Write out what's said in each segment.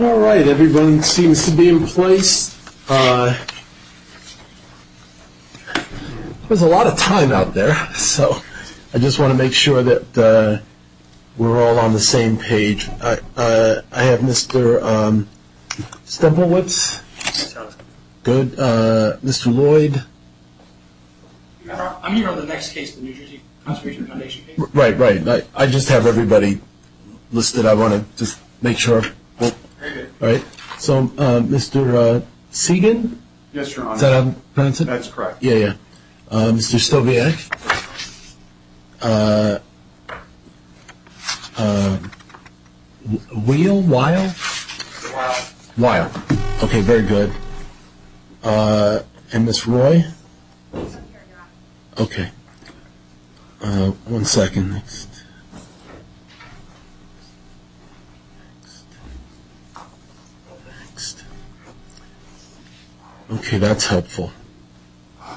All right, everyone seems to be in place. There's a lot of time out there, so I just want to make sure that we're all on the same page. I have Mr. Stempelwitz. Good. Mr. Lloyd. I'm here on the next case, the New Jersey Constitution Foundation case. Right, right. I just have everybody listed. I want to just make sure. All right. So, Mr. Segan? Yes, Your Honor. That's correct. Yeah, yeah. Mr. Stobianic? Weill? Weill? Weill. Okay, very good. And Ms. Roy? Okay. One second. Okay, that's helpful. All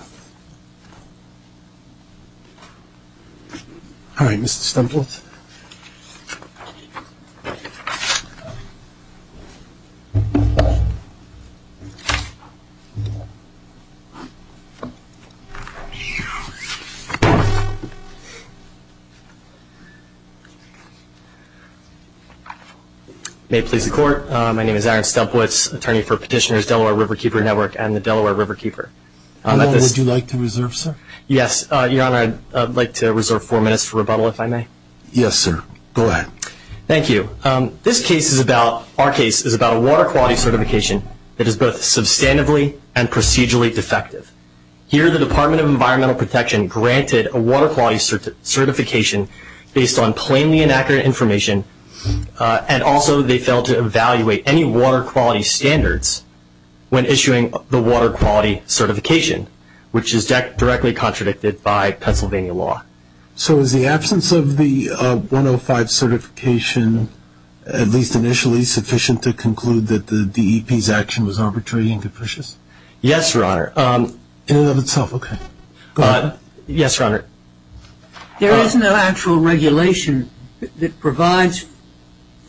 right, Mr. Stempelwitz. May it please the Court, my name is Aaron Stempelwitz, attorney for Petitioners Delaware Riverkeeper Network and the Delaware Riverkeeper. Your Honor, would you like to reserve, sir? Yes, Your Honor, I'd like to reserve four minutes for rebuttal, if I may. Yes, sir. Go ahead. Thank you. This case is about, our case is about a water quality certification that is both substantively and procedurally defective. Here the Department of Environmental Protection granted a water quality certification based on plainly inaccurate information, and also they failed to evaluate any water quality standards when issuing the water quality certification, which is directly contradicted by Pennsylvania law. So is the absence of the 105 certification, at least initially, sufficient to conclude that the DEP's action was arbitrary and capricious? Yes, Your Honor. Go ahead. Yes, Your Honor. There isn't an actual regulation that provides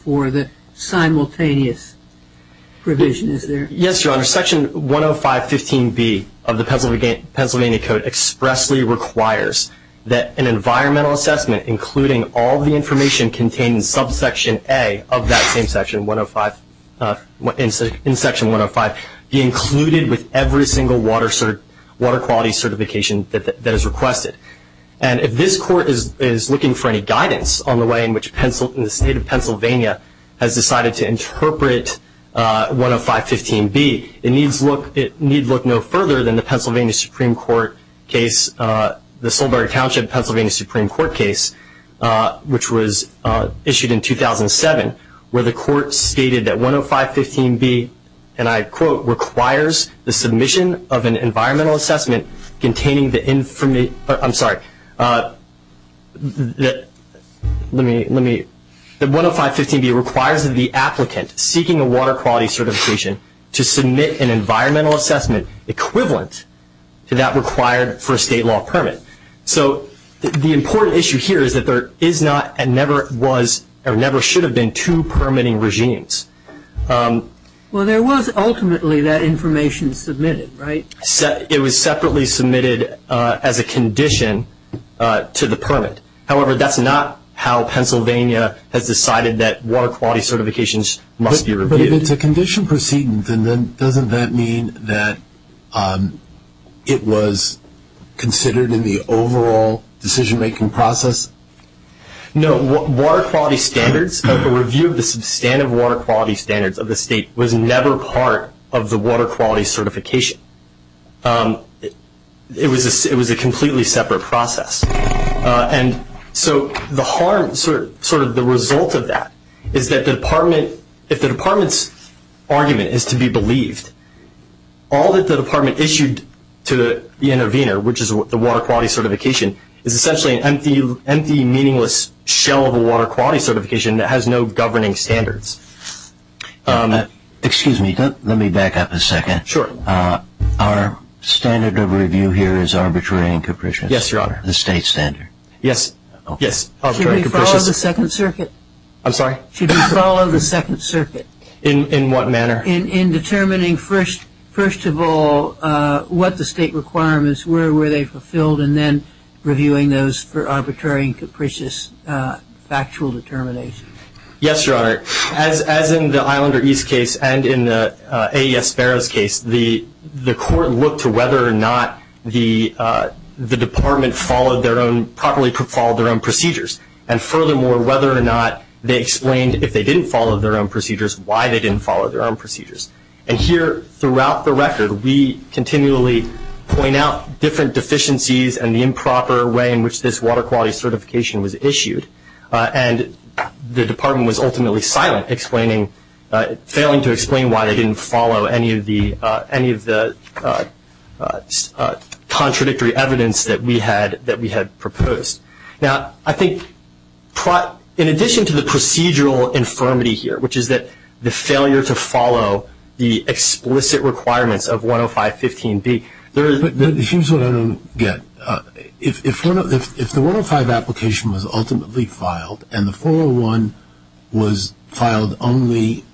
for the simultaneous provision, is there? Yes, Your Honor. Section 10515B of the Pennsylvania Code expressly requires that an environmental assessment, including all the information contained in subsection A of that same section, in section 105, be included with every single water quality certification that is requested. And if this court is looking for any guidance on the way in which the State of Pennsylvania has decided to interpret 10515B, it need look no further than the Pennsylvania Supreme Court case, the Sulberg Township Pennsylvania Supreme Court case, which was issued in 2007, where the court stated that 10515B, and I quote, requires the submission of an environmental assessment containing the information. I'm sorry. 10515B requires that the applicant seeking a water quality certification to submit an environmental assessment equivalent to that required for a state law permit. So the important issue here is that there is not and never was or never should have been two permitting regimes. Well, there was ultimately that information submitted, right? It was separately submitted as a condition to the permit. However, that's not how Pennsylvania has decided that water quality certifications must be reviewed. But if it's a condition proceeding, then doesn't that mean that it was considered in the overall decision-making process? No. Water quality standards, the review of the substantive water quality standards of the state was never part of the water quality certification. It was a completely separate process. And so the harm, sort of the result of that, is that the department, if the department's argument is to be believed, all that the department issued to the intervener, which is the water quality certification, is essentially an empty, meaningless shell of a water quality certification that has no governing standards. Excuse me. Let me back up a second. Sure. Our standard of review here is arbitrary and capricious. Yes, Your Honor. The state standard. Yes. Should we follow the Second Circuit? I'm sorry? Should we follow the Second Circuit? In what manner? In determining, first of all, what the state requirements were, were they fulfilled, and then reviewing those for arbitrary and capricious factual determination. Yes, Your Honor. As in the Islander East case and in the AES Ferris case, the court looked to whether or not the department properly followed their own procedures, and furthermore, whether or not they explained, if they didn't follow their own procedures, why they didn't follow their own procedures. And here, throughout the record, we continually point out different deficiencies and the improper way in which this water quality certification was issued. And the department was ultimately silent, failing to explain why they didn't follow any of the contradictory evidence that we had proposed. Now, I think, in addition to the procedural infirmity here, which is that the failure to follow the explicit requirements of 105.15b, there is- The 105.15b filed, and the 401 was filed only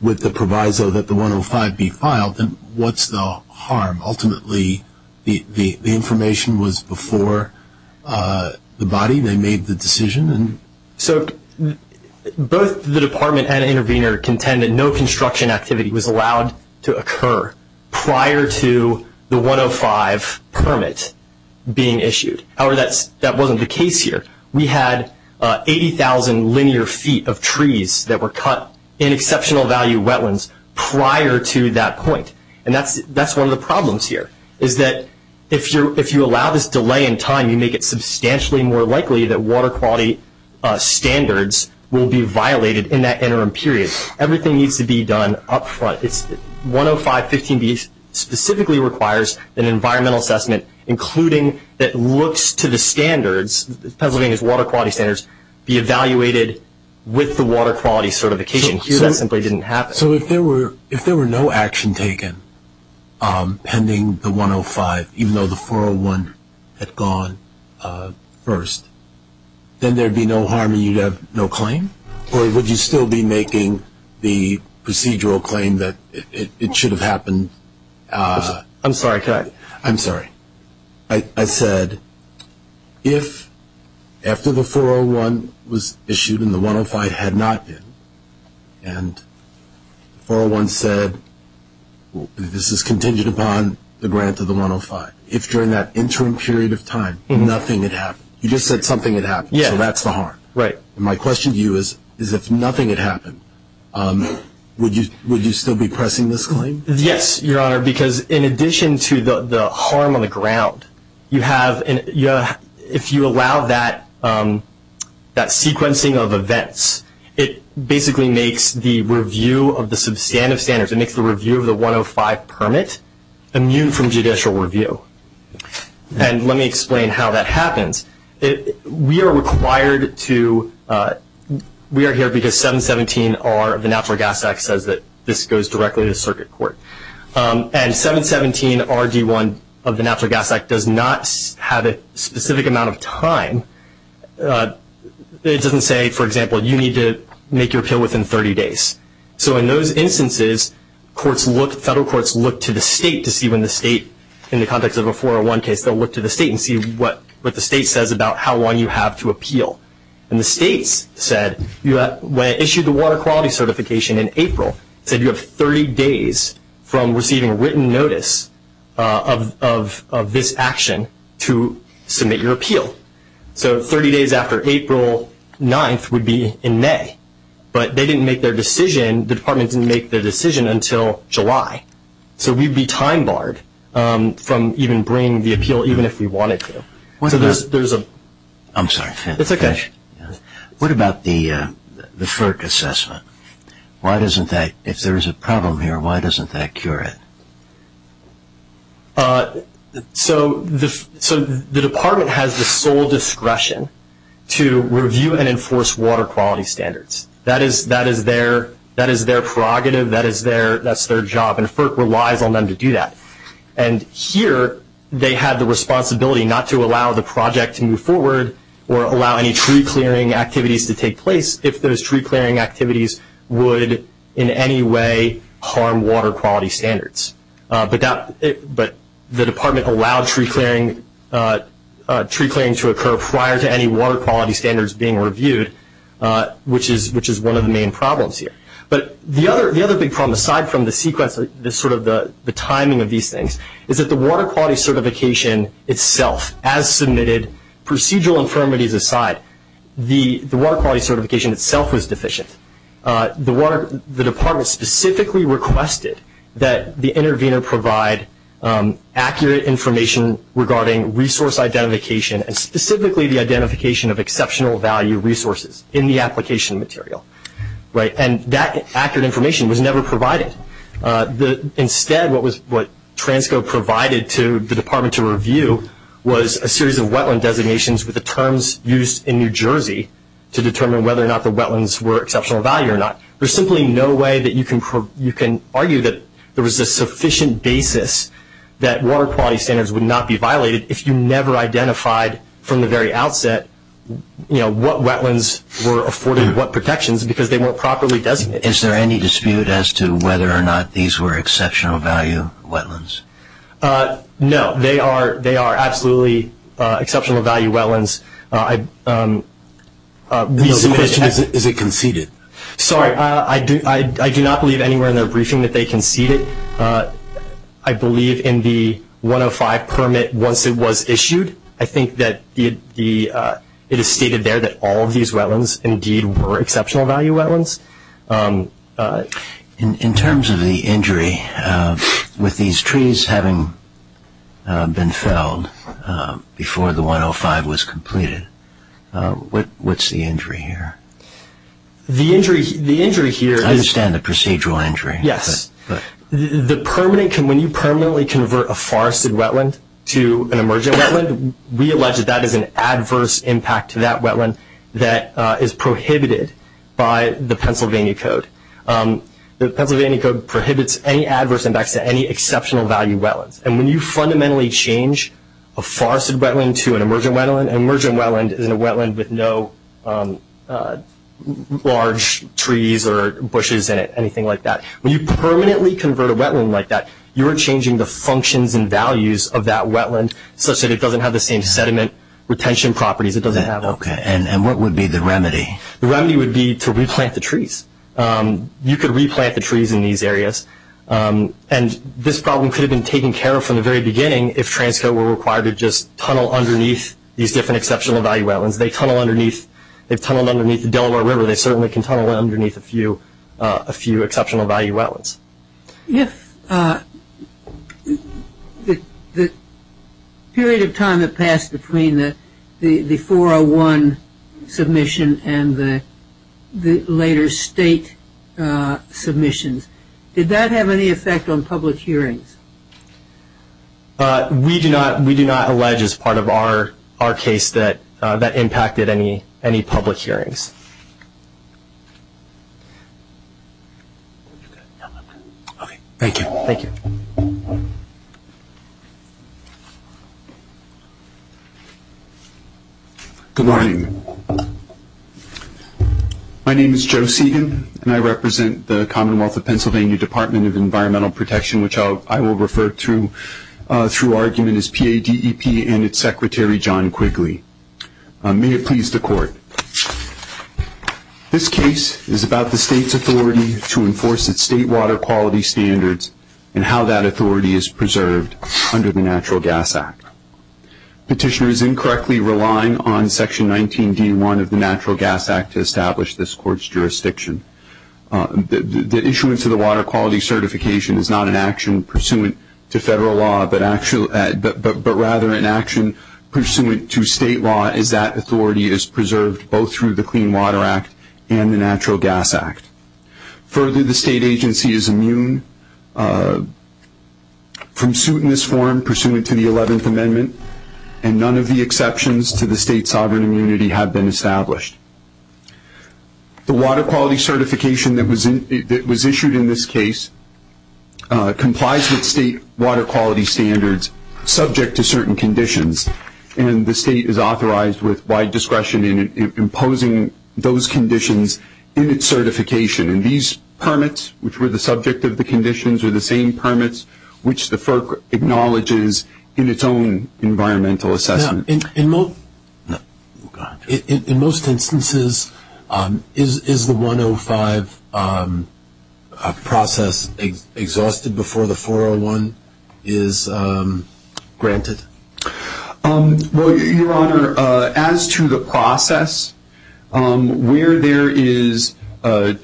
with the proviso that the 105.15b filed. And what's the harm? Ultimately, the information was before the body. They made the decision. So both the department and the intervener contend that no construction activity was allowed to occur prior to the 105.15 permit being issued. However, that wasn't the case here. We had 80,000 linear feet of trees that were cut in exceptional value wetlands prior to that point. And that's one of the problems here, is that if you allow this delay in time, you make it substantially more likely that water quality standards will be violated in that interim period. Everything needs to be done up front. 105.15b specifically requires an environmental assessment, including that looks to the standards, Pennsylvania's water quality standards, be evaluated with the water quality certification. Here that simply didn't happen. So if there were no action taken pending the 105, even though the 401 had gone first, then there would be no harm and you'd have no claim? Corey, would you still be making the procedural claim that it should have happened? I'm sorry, can I? I'm sorry. I said, if after the 401 was issued and the 105 had not been, and the 401 said this is contingent upon the grant of the 105, if during that interim period of time nothing had happened, you just said something had happened, so that's the harm. Right. My question to you is, if nothing had happened, would you still be pressing this claim? Yes, Your Honor, because in addition to the harm on the ground, if you allow that sequencing of events, it basically makes the review of the substantive standards, it makes the review of the 105 permit immune from judicial review. And let me explain how that happens. We are here because 717R of the Natural Gas Act says that this goes directly to circuit court. And 717RD1 of the Natural Gas Act does not have a specific amount of time. It doesn't say, for example, you need to make your appeal within 30 days. So in those instances, federal courts look to the state to see when the state, in the context of a 401 case, they'll look to the state and see what the state says about how long you have to appeal. And the state said, when it issued the water quality certification in April, it said you have 30 days from receiving written notice of this action to submit your appeal. So 30 days after April 9th would be in May. But they didn't make their decision, the department didn't make their decision until July. So we'd be time barred from even bringing the appeal even if we wanted to. I'm sorry. What about the FERC assessment? If there is a problem here, why doesn't that cure it? So the department has the sole discretion to review and enforce water quality standards. That is their prerogative, that's their job, and FERC relies on them to do that. And here they have the responsibility not to allow the project to move forward or allow any tree clearing activities to take place if those tree clearing activities would, in any way, harm water quality standards. But the department allowed tree clearing to occur prior to any water quality standards being reviewed, which is one of the main problems here. But the other big problem, aside from the timing of these things, is that the water quality certification itself, as submitted, procedural infirmities aside, the water quality certification itself was deficient. The department specifically requested that the intervener provide accurate information regarding resource identification and specifically the identification of exceptional value resources in the application material. And that accurate information was never provided. Instead, what TRANSCO provided to the department to review was a series of wetland designations with the terms used in New Jersey to determine whether or not the wetlands were exceptional value or not. There's simply no way that you can argue that there was a sufficient basis that water quality standards would not be identified from the very outset what wetlands were afforded what protections because they weren't properly designated. Is there any dispute as to whether or not these were exceptional value wetlands? No. They are absolutely exceptional value wetlands. Is it conceded? Sorry. I do not believe anywhere in the briefing that they conceded. I believe in the 105 permit once it was issued. I think that it is stated there that all of these wetlands indeed were exceptional value wetlands. In terms of the injury, with these trees having been felled before the 105 was completed, what's the injury here? The injury here is- I understand the procedural injury. Yes. When you permanently convert a forested wetland to an emergent wetland, realize that that is an adverse impact to that wetland that is prohibited by the Pennsylvania Code. The Pennsylvania Code prohibits any adverse impact to any exceptional value wetlands. And when you fundamentally change a forested wetland to an emergent wetland, an emergent wetland is a wetland with no large trees or bushes in it, anything like that. When you permanently convert a wetland like that, you are changing the functions and values of that wetland such that it doesn't have the same sediment retention properties it doesn't have. Okay. And what would be the remedy? The remedy would be to replant the trees. You could replant the trees in these areas. And this problem could have been taken care of from the very beginning if transit were required to just tunnel underneath these different exceptional value wetlands. They tunnel underneath the Delaware River. They certainly can tunnel underneath a few exceptional value wetlands. Yes. The period of time that passed between the 401 submission and the later state submissions, did that have any effect on public hearings? We do not allege as part of our case that that impacted any public hearings. Okay. Thank you. Thank you. Good morning. My name is Joe Segan, and I represent the Commonwealth of Pennsylvania Department of Environmental Protection, which I will refer to through argument as PADEP and its secretary, John Quigley. May it please the court. This case is about the state's authority to enforce its state water quality standards and how that authority is preserved under the Natural Gas Act. Petitioner is incorrectly relying on Section 19D1 of the Natural Gas Act to establish this court's jurisdiction. The issuance of the water quality certification is not an action pursuant to federal law, but rather an action pursuant to state law, as that authority is preserved both through the Clean Water Act and the Natural Gas Act. Further, the state agency is immune from suit in this form, either pursuant to the Eleventh Amendment, and none of the exceptions to the state's sovereign immunity have been established. The water quality certification that was issued in this case complies with state water quality standards subject to certain conditions, and the state is authorized with wide discretion in imposing those conditions in its certification. And these permits, which were the subject of the conditions, are the same permits which the FERC acknowledges in its own environmental assessment. In most instances, is the 105 process exhausted before the 401 is granted? Well, Your Honor, as to the process, where there is a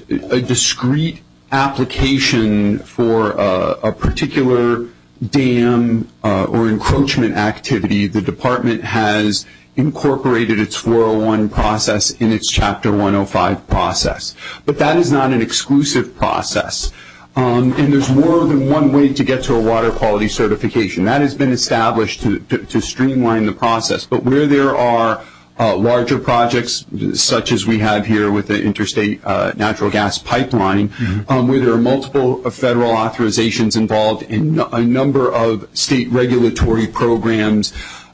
discrete application for a particular dam or encroachment activity, the Department has incorporated its 401 process in its Chapter 105 process. But that is not an exclusive process, and there's more than one way to get to a water quality certification. That has been established to streamline the process. But where there are larger projects, such as we have here with the Interstate Natural Gas Pipeline, where there are multiple federal authorizations involved and a number of state regulatory programs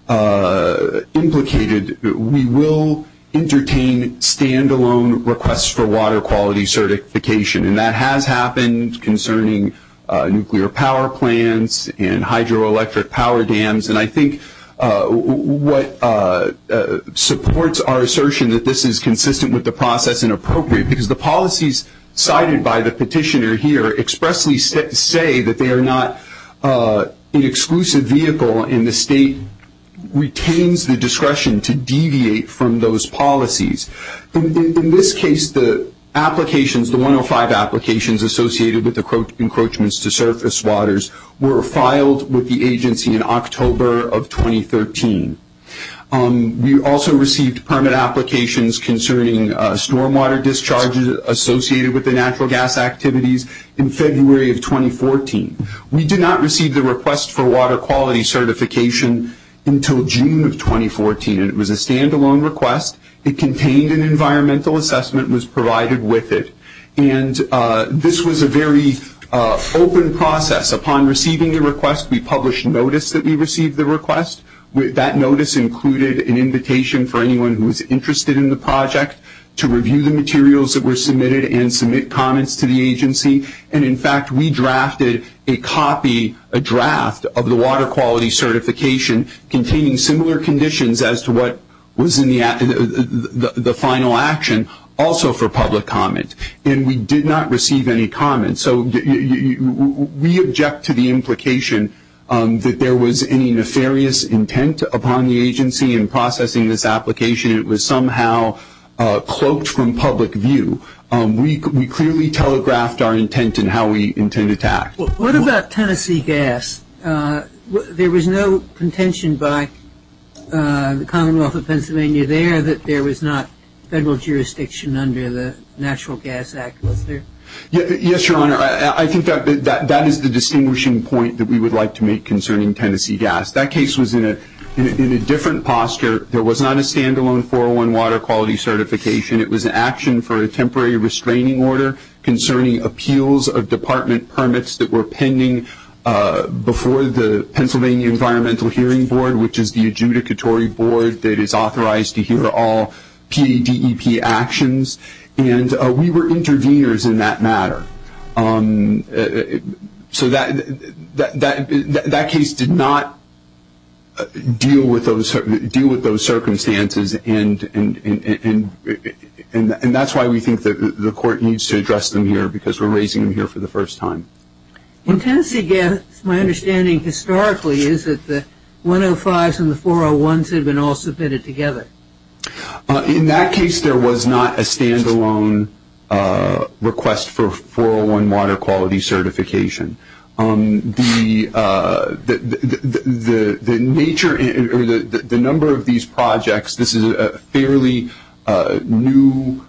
implicated, we will entertain standalone requests for water quality certification. And that has happened concerning nuclear power plants and hydroelectric power dams. And I think what supports our assertion that this is consistent with the process and appropriate, because the policies cited by the petitioner here expressly say that they are not an exclusive vehicle, and the state retains the discretion to deviate from those policies. In this case, the applications, the 105 applications associated with encroachments to surface waters, were filed with the agency in October of 2013. We also received permit applications concerning stormwater discharges associated with the natural gas activities in February of 2014. We did not receive the request for water quality certification until June of 2014. It was a standalone request. It contained an environmental assessment and was provided with it. And this was a very open process. Upon receiving the request, we published notice that we received the request. That notice included an invitation for anyone who was interested in the project to review the materials that were submitted and submit comments to the agency. And, in fact, we drafted a copy, a draft, of the water quality certification, containing similar conditions as to what was in the final action, also for public comment. And we did not receive any comments. So we object to the implication that there was any nefarious intent upon the agency in processing this application. It was somehow cloaked from public view. We clearly telegraphed our intent and how we intended to act. What about Tennessee gas? There was no contention by the Commonwealth of Pennsylvania there that there was not federal jurisdiction under the Natural Gas Act, was there? Yes, Your Honor. I think that is the distinguishing point that we would like to make concerning Tennessee gas. That case was in a different posture. There was not a standalone 401 water quality certification. It was an action for a temporary restraining order concerning appeals of department permits that were pending before the Pennsylvania Environmental Hearing Board, which is the adjudicatory board that is authorized to hear all PDBEP actions. And we were interveners in that matter. So that case did not deal with those circumstances, and that's why we think that the court needs to address them here because we're raising them here for the first time. Well, Tennessee gas, my understanding historically, is that the 105s and the 401s had been also fitted together. In that case, there was not a standalone request for 401 water quality certification. The nature or the number of these projects, this is a fairly new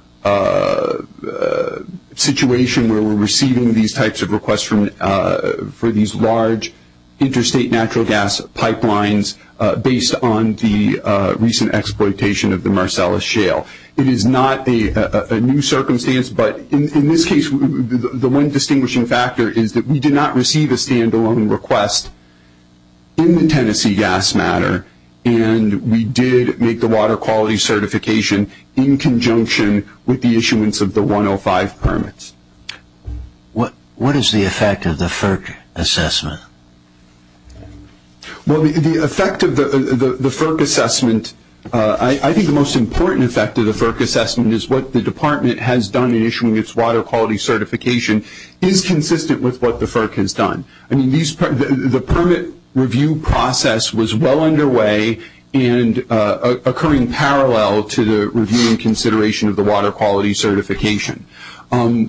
situation where we're receiving these types of requests for these large interstate natural gas pipelines based on the recent exploitation of the Marcellus Shale. It is not a new circumstance, but in this case, the one distinguishing factor is that we did not receive a standalone request in the Tennessee gas matter, and we did make the water quality certification in conjunction with the issuance of the 105 permits. What is the effect of the FERC assessment? Well, the effect of the FERC assessment, I think the most important effect of the FERC assessment is what the department has done in issuing its water quality certification is consistent with what the FERC has done. The permit review process was well underway and occurring parallel to the review and consideration of the water quality certification. And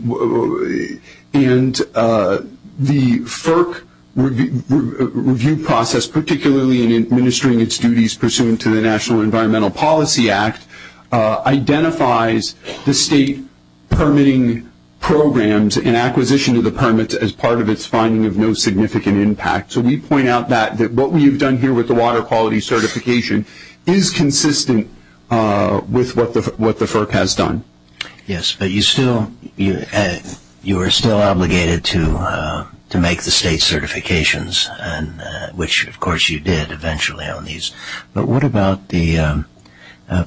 the FERC review process, particularly in administering its duties pursuant to the National Environmental Policy Act, identifies the state permitting programs in acquisition of the permits as part of its finding of no significant impact. So, we point out that what we have done here with the water quality certification is consistent with what the FERC has done. Yes, but you are still obligated to make the state certifications, which, of course, you did eventually on these. But what about the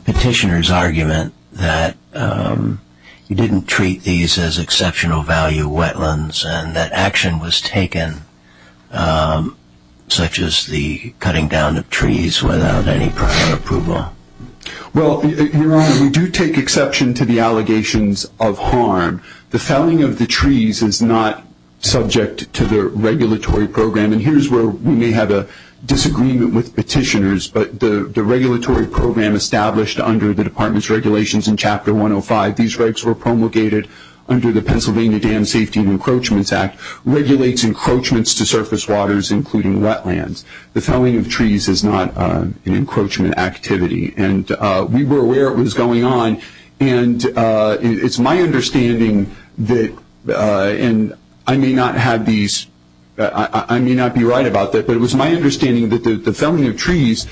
petitioner's argument that you didn't treat these as exceptional value wetlands and that action was taken, such as the cutting down of trees, without any prior approval? Well, you're right. We do take exception to the allegations of harm. The felling of the trees is not subject to the regulatory program. And here's where we may have a disagreement with petitioners. But the regulatory program established under the department's regulations in Chapter 105, these regs were promulgated under the Pennsylvania Dam Safety and Encroachments Act, regulates encroachments to surface waters, including wetlands. The felling of trees is not an encroachment activity. And we were aware it was going on. And it's my understanding that, and I may not have these, I may not be right about this, but it was my understanding that the felling of trees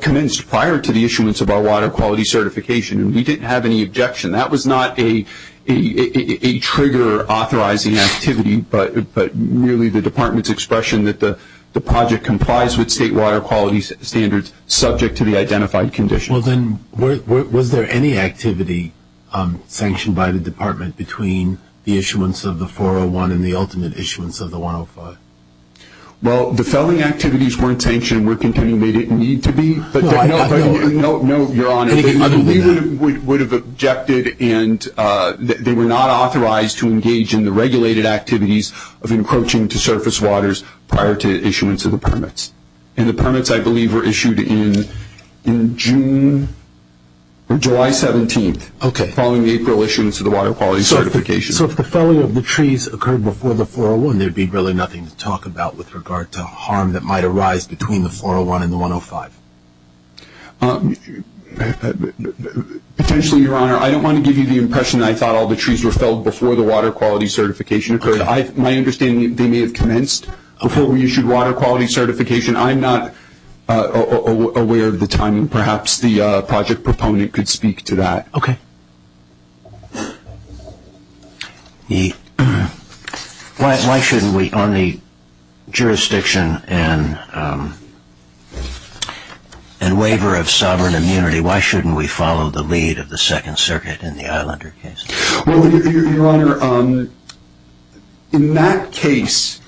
commenced prior to the issuance of our water quality certification. And we didn't have any objection. That was not a trigger authorizing activity, but really the department's expression that the project complies with state water quality standards subject to the identified conditions. Well, then, was there any activity sanctioned by the department between the issuance of the 401 and the ultimate issuance of the 105? Well, the felling activities weren't sanctioned. We're concluding they didn't need to be. No, no, your Honor. I believe we would have objected and they were not authorized to engage in the regulated activities of encroaching to surface waters prior to the issuance of the permits. And the permits, I believe, were issued in June or July 17th. Okay. Following the April issuance of the water quality certification. So if the felling of the trees occurred before the 401, there would be really nothing to talk about with regard to harm that might arise between the 401 and the 105. Potentially, your Honor, I don't want to give you the impression I thought all the trees were felled before the water quality certification occurred. My understanding is they may have commenced before we issued water quality certification. I'm not aware of the timing. Perhaps the project proponent could speak to that. Okay. Why shouldn't we, on the jurisdiction and waiver of sovereign immunity, why shouldn't we follow the lead of the Second Circuit in the Islander case? Well, your Honor, in that case,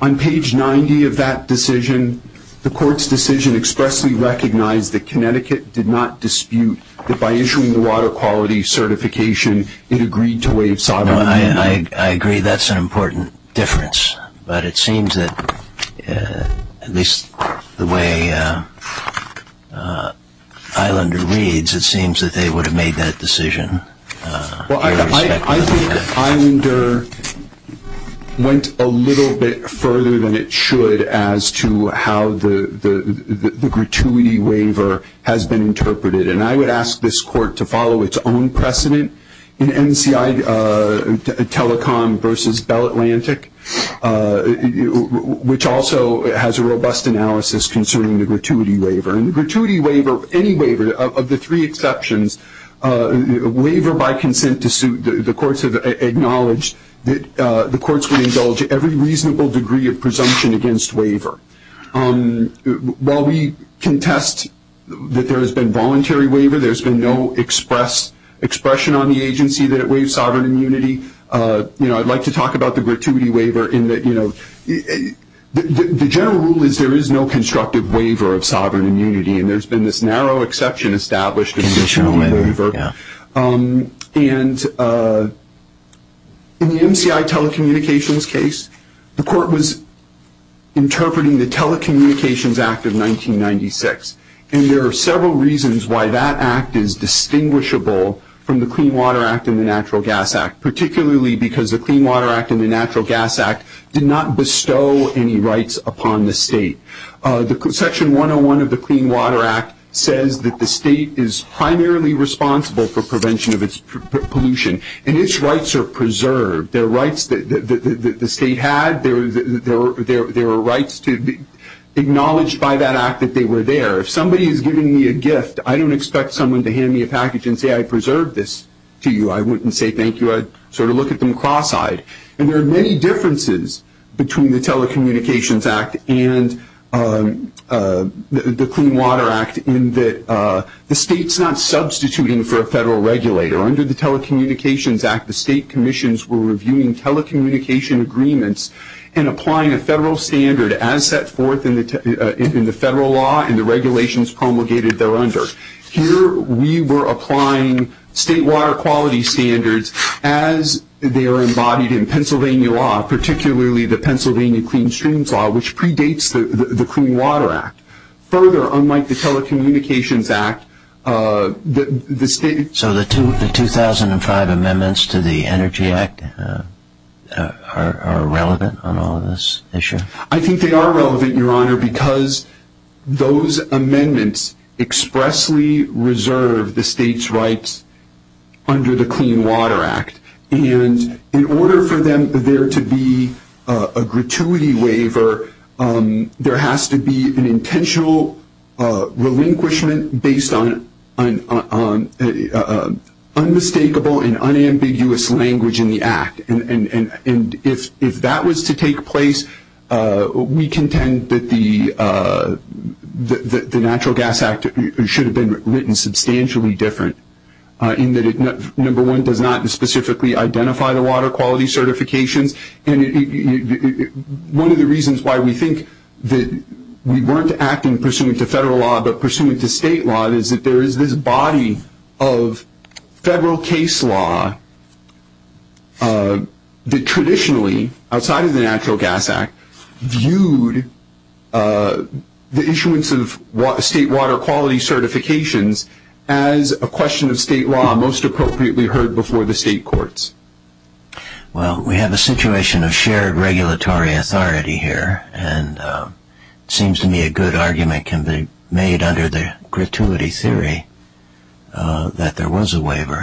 on page 90 of that decision, the court's decision expressly recognized that Connecticut did not dispute that by issuing the water quality certification, it agreed to waive sovereign immunity. I agree that's an important difference. But it seems that, at least the way Islander leads, it seems that they would have made that decision. Well, I think Islander went a little bit further than it should as to how the gratuity waiver has been interpreted. And I would ask this court to follow its own precedent in NCI Telecom versus Bell Atlantic, which also has a robust analysis concerning the gratuity waiver. And the gratuity waiver, any waiver, of the three exceptions, waiver by consent to suit, the courts have acknowledged that the courts would indulge every reasonable degree of presumption against waiver. While we contest that there has been voluntary waiver, there's been no expression on the agency that it waives sovereign immunity, I'd like to talk about the gratuity waiver in that the general rule is there is no constructive waiver of sovereign immunity, and there's been this narrow exception established in the traditional waiver. And in the NCI Telecommunications case, the court was interpreting the Telecommunications Act of 1996, and there are several reasons why that act is distinguishable from the Clean Water Act and the Natural Gas Act, particularly because the Clean Water Act and the Natural Gas Act did not bestow any rights upon the state. Section 101 of the Clean Water Act says that the state is primarily responsible for prevention of its pollution, and its rights are preserved. Their rights that the state had, they were rights to be acknowledged by that act that they were there. If somebody is giving me a gift, I don't expect someone to hand me a package and say, I preserved this to you, I wouldn't say thank you. I'd sort of look at them cross-eyed. And there are many differences between the Telecommunications Act and the Clean Water Act in that the state's not substituting for a federal regulator. Under the Telecommunications Act, the state commissions were reviewing telecommunication agreements and applying a federal standard as set forth in the federal law and the regulations promulgated there under. Here we were applying state water quality standards as they are embodied in Pennsylvania law, particularly the Pennsylvania Clean Streams Law, which predates the Clean Water Act. Further, unlike the Telecommunications Act, the state... So the 2005 amendments to the Energy Act are relevant on all this issue? I think they are relevant, Your Honor, because those amendments expressly reserve the state's rights under the Clean Water Act. And in order for there to be a gratuity waiver, there has to be an intentional relinquishment based on unmistakable and unambiguous language in the act. And if that was to take place, we contend that the Natural Gas Act should have been written substantially different in that it, number one, does not specifically identify the water quality certification. And one of the reasons why we think that we weren't acting pursuant to federal law but pursuant to state law is that there is this body of federal case law that traditionally, outside of the Natural Gas Act, viewed the issuance of state water quality certifications as a question of state law, most appropriately heard before the state courts. Well, we have a situation of shared regulatory authority here, and it seems to me a good argument can be made under the gratuity theory that there was a waiver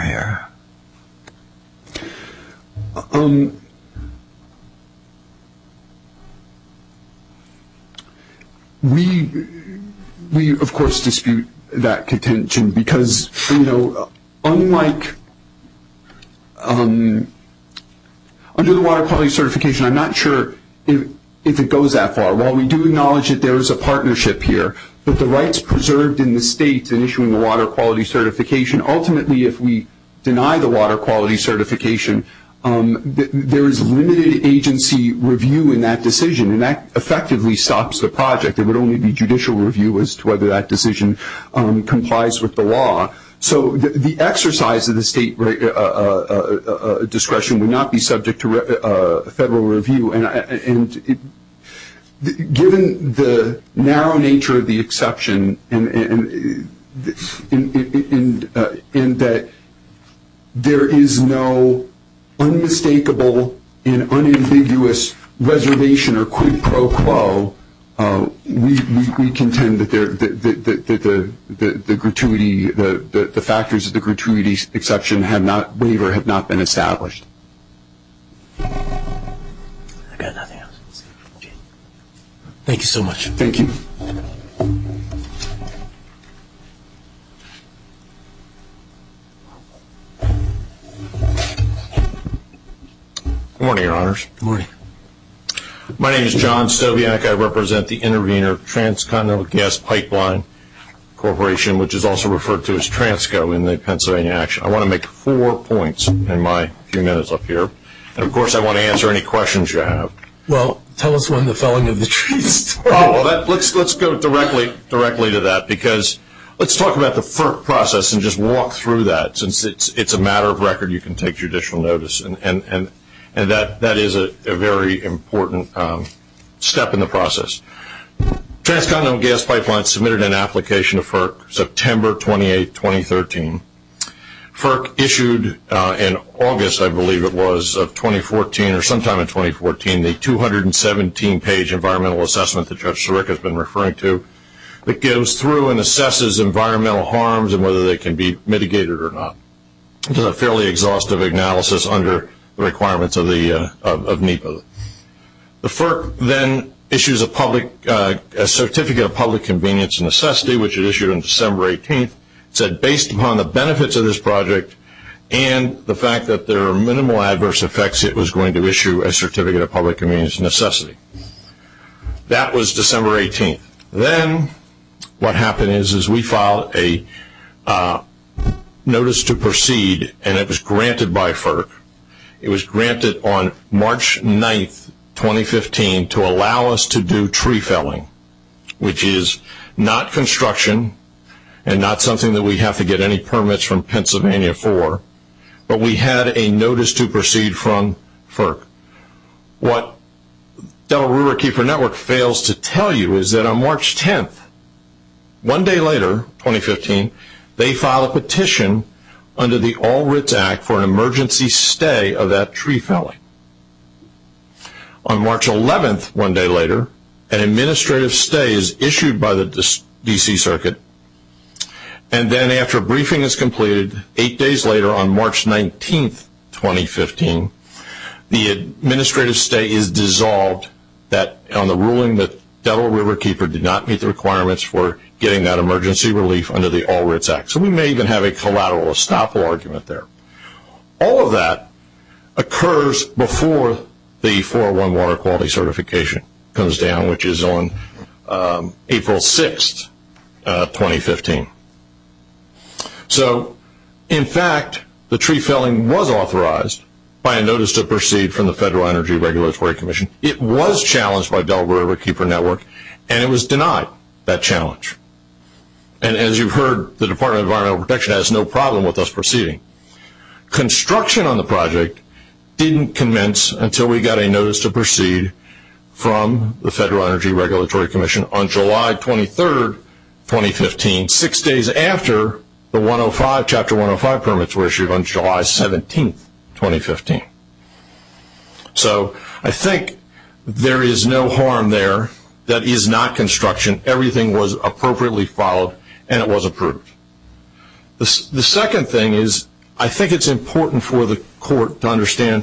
here. We, of course, dispute that contention because, you know, unlike under the water quality certification, I'm not sure if it goes that far. While we do acknowledge that there is a partnership here, but the rights preserved in the state in issuing the water quality certification, ultimately, if we deny the water quality certification, there is limited agency review in that decision, and that effectively stops the project. There would only be judicial review as to whether that decision complies with the law. So the exercise of the state discretion would not be subject to federal review. And given the narrow nature of the exception and that there is no unmistakable and unambiguous reservation or quid pro quo, we contend that the factors of the gratuity exception waiver have not been established. Thank you so much. Thank you. Good morning, Your Honors. Good morning. My name is John Stobianek. I represent the Intervenor Transcontinental Gas Pipeline Corporation, which is also referred to as TRANSCO in the Pennsylvania Action. I want to make four points in my few minutes up here. And, of course, I want to answer any questions you have. Well, tell us one, the felling of the tree. Let's go directly to that because let's talk about the FERC process and just walk through that. Since it's a matter of record, you can take judicial notice. And that is a very important step in the process. Transcontinental Gas Pipeline submitted an application to FERC September 28, 2013. FERC issued in August, I believe it was, of 2014 or sometime in 2014, the 217-page environmental assessment that Judge Sirica has been referring to. It goes through and assesses environmental harms and whether they can be mitigated or not. It's a fairly exhaustive analysis under the requirements of NEPA. The FERC then issues a certificate of public convenience necessity, which it issued on December 18th. It said, based upon the benefits of this project and the fact that there are minimal adverse effects, it was going to issue a certificate of public convenience necessity. That was December 18th. Then what happened is we filed a notice to proceed, and it was granted by FERC. It was granted on March 9th, 2015, to allow us to do tree felling, which is not construction and not something that we have to get any permits from Pennsylvania for, but we had a notice to proceed from FERC. What Delaware River Keeper Network fails to tell you is that on March 10th, one day later, 2015, they filed a petition under the All Writs Act for an emergency stay of that tree felling. On March 11th, one day later, an administrative stay is issued by the D.C. Circuit, and then after a briefing is completed, eight days later on March 19th, 2015, the administrative stay is dissolved on the ruling that Delaware River Keeper did not meet the requirements for getting that emergency relief under the All Writs Act. So we may even have a collateral, a stop law argument there. All of that occurs before the 411 water quality certification comes down, which is on April 6th, 2015. So, in fact, the tree felling was authorized by a notice to proceed from the Federal Energy Regulatory Commission. It was challenged by Delaware River Keeper Network, and it was denied that challenge. And as you've heard, the Department of Environmental Protection has no problem with us proceeding. Construction on the project didn't commence until we got a notice to proceed from the Federal Energy Regulatory Commission on July 23rd, 2015, six days after the Chapter 105 permits were issued on July 17th, 2015. So I think there is no harm there. That is not construction. Everything was appropriately followed, and it was approved. The second thing is I think it's important for the court to understand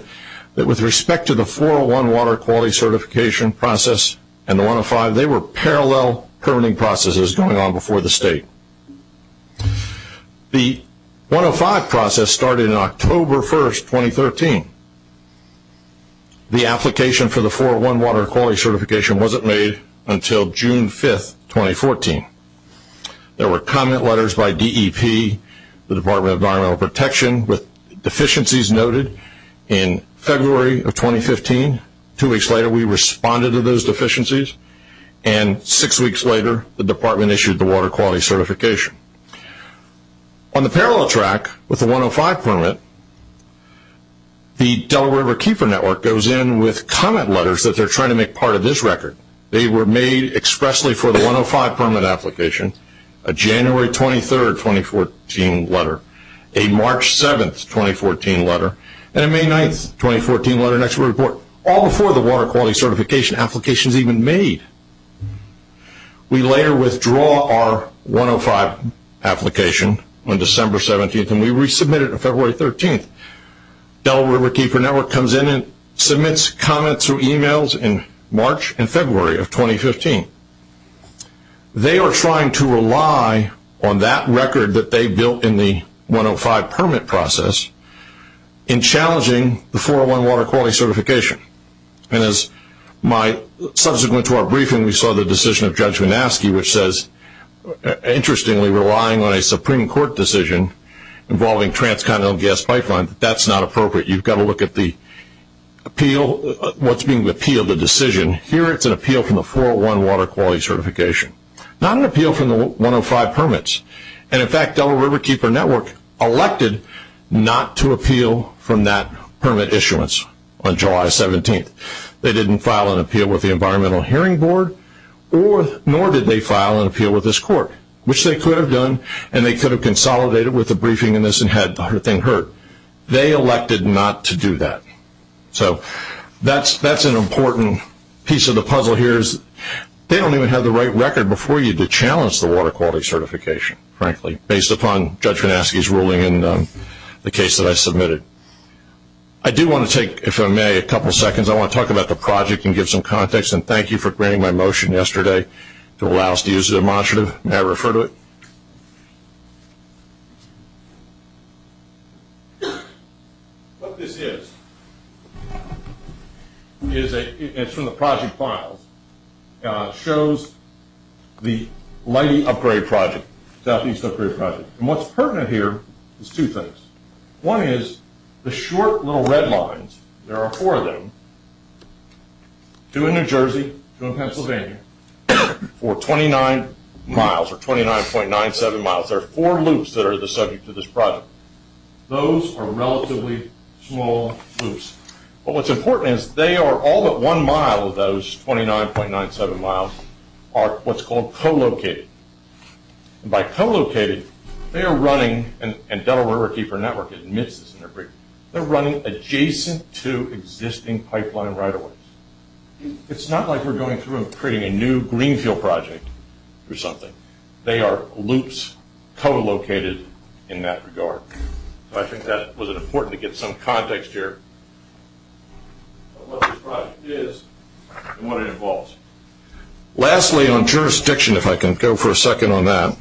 that with respect to the 401 water quality certification process and the 105, they were parallel permitting processes going on before the state. The 105 process started on October 1st, 2013. The application for the 401 water quality certification wasn't made until June 5th, 2014. There were comment letters by DEP, the Department of Environmental Protection, with deficiencies noted. In February of 2015, two weeks later, we responded to those deficiencies, and six weeks later the Department issued the water quality certification. On the parallel track with the 105 permit, the Delaware River Keeper Network goes in with comment letters that they're trying to make part of this record. They were made expressly for the 105 permit application, a January 23rd, 2014 letter, a March 7th, 2014 letter, and a May 9th, 2014 letter, all before the water quality certification application is even made. We later withdraw our 105 application on December 17th, and we resubmit it on February 13th. Delaware River Keeper Network comes in and submits comments through emails in March and February of 2015. They are trying to rely on that record that they built in the 105 permit process in challenging the 401 water quality certification. Subsequent to our briefing, we saw the decision of Judge Manaske, which says, interestingly, relying on a Supreme Court decision involving transcontinental gas pipeline, that's not appropriate. You've got to look at the appeal, what's being appealed, the decision. Here it's an appeal from the 401 water quality certification, not an appeal from the 105 permits. In fact, Delaware River Keeper Network elected not to appeal from that permit issuance on July 17th. They didn't file an appeal with the Environmental Hearing Board, nor did they file an appeal with this court, which they could have done, and they could have consolidated with the briefing in this and had the whole thing heard. They elected not to do that. That's an important piece of the puzzle here. They don't even have the right record before you to challenge the water quality certification, frankly, based upon Judge Manaske's ruling in the case that I submitted. I do want to take, if I may, a couple seconds. I want to talk about the project and give some context, and thank you for granting my motion yesterday to allow us to use it as a demonstrative, and I refer to it. What this is, and it's from the project file, shows the mighty upper area project, southeast upper area project, and what's pertinent here is two things. One is the short little red lines, there are four of them, two in New Jersey, two in Pennsylvania, for 29 miles, or 29.97 miles, there are four loops that are the subject of this project. Those are relatively small loops, but what's important is they are all but one mile of those 29.97 miles are what's called co-located. By co-located, they are running, and Delaware River Keeper Network admits this in their brief, they're running adjacent to existing pipeline right of ways. It's not like we're going through and creating a new Greenfield project or something. They are loops co-located in that regard. I think that was important to get some context here of what the project is and what it involves. Lastly, on jurisdiction, if I can go for a second on that.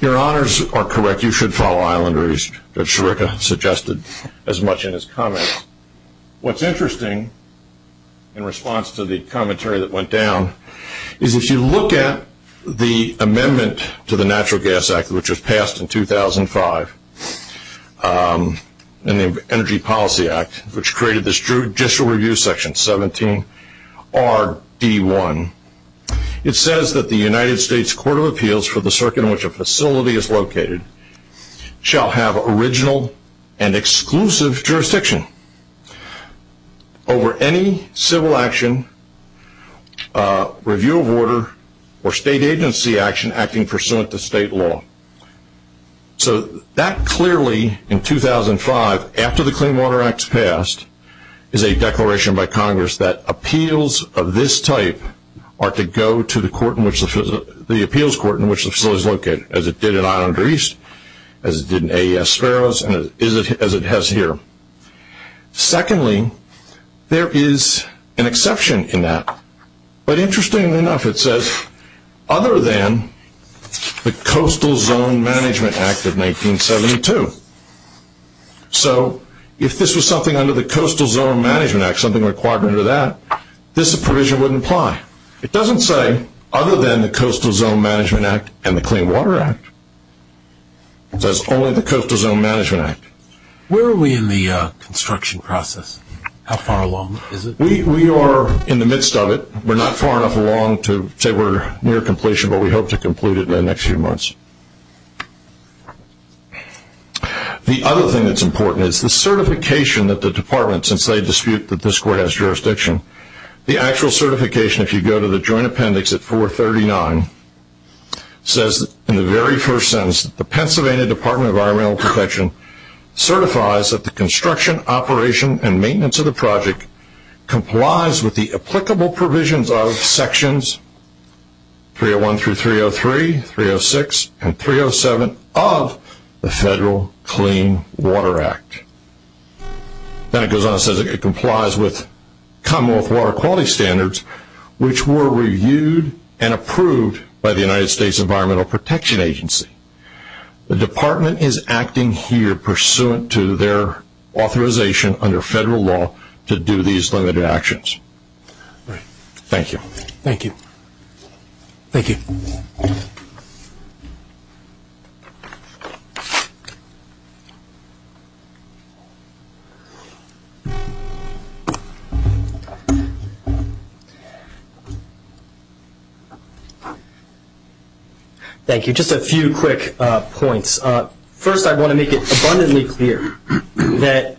Your honors are correct, you should follow Islander. He's suggested as much in his comments. What's interesting, in response to the commentary that went down, is if you look at the amendment to the Natural Gas Act, which was passed in 2005, and the Energy Policy Act, which created this judicial review section, 17RD1. It says that the United States Court of Appeals for the circuit in which a facility is located shall have original and exclusive jurisdiction over any civil action, review of order, or state agency action acting pursuant to state law. That clearly, in 2005, after the Clean Water Act is passed, is a declaration by Congress that appeals of this type are to go to the appeals court in which the facility is located, as it did in Islander East, as it did in AES Ferros, and as it has here. Secondly, there is an exception to that. But interestingly enough, it says, other than the Coastal Zone Management Act of 1972. So, if this was something under the Coastal Zone Management Act, something required under that, this provision wouldn't apply. It doesn't say, other than the Coastal Zone Management Act and the Clean Water Act. It says only the Coastal Zone Management Act. Where are we in the construction process? How far along is it? We are in the midst of it. We're not far enough along to say we're near completion, but we hope to conclude it in the next few months. The other thing that's important is the certification that the department, since they dispute that this court has jurisdiction, the actual certification, if you go to the Joint Appendix at 439, says, in the very first sentence, the Pennsylvania Department of Environmental Protection certifies that the construction, operation, and maintenance of the project complies with the applicable provisions of Sections 301 through 303, 306, and 307 of the Federal Clean Water Act. Then it goes on and says it complies with Commonwealth Water Quality Standards, which were reviewed and approved by the United States Environmental Protection Agency. The department is acting here pursuant to their authorization under federal law to do these limited actions. All right. Thank you. Thank you. Thank you. Thank you. Thank you. Just a few quick points. First, I want to make it abundantly clear that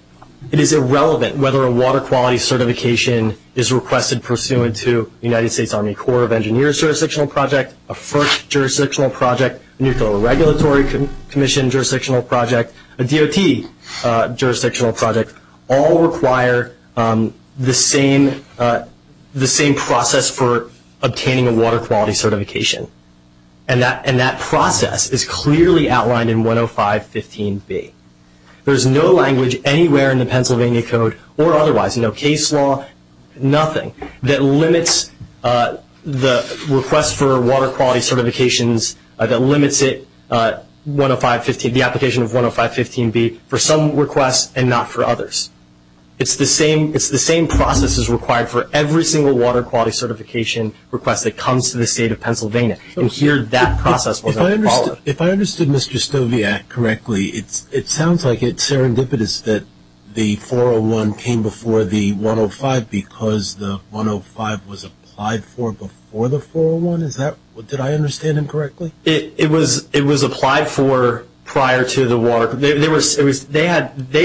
it is irrelevant whether a water quality certification is requested pursuant to the United States Army Corps of Engineers jurisdictional project, a FIRST jurisdictional project, a Nuclear Regulatory Commission jurisdictional project, a DOT jurisdictional project, all require the same process for obtaining a water quality certification. And that process is clearly outlined in 10515B. There's no language anywhere in the Pennsylvania Code or otherwise, no case law, nothing, that limits the request for water quality certifications, that limits it, the application of 10515B, for some requests and not for others. It's the same process as required for every single water quality certification request that comes to the State of Pennsylvania. If I understood Mr. Stoviak correctly, it sounds like it's serendipitous that the 401 came before the 105 because the 105 was applied for before the 401? Did I understand him correctly? It was applied for prior to the water. They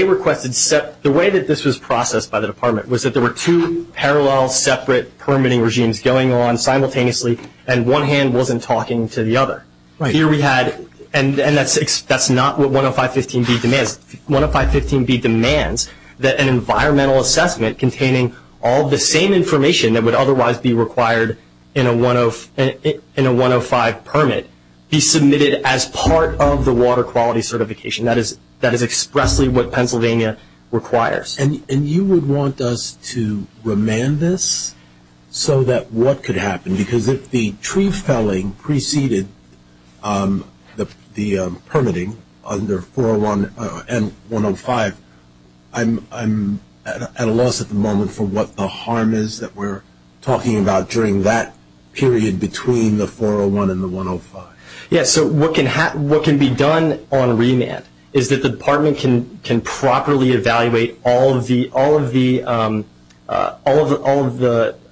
requested separate – the way that this was processed by the department was that there were two parallel, two separate permitting regimes going on simultaneously and one hand wasn't talking to the other. Here we had – and that's not what 10515B demands. 10515B demands that an environmental assessment containing all the same information that would otherwise be required in a 105 permit be submitted as part of the water quality certification. That is expressly what Pennsylvania requires. And you would want us to remand this so that what could happen? Because if the tree felling preceded the permitting under 401 and 105, I'm at a loss at the moment for what the harm is that we're talking about during that period between the 401 and the 105. Yes, so what can be done on remand is that the department can properly evaluate all of the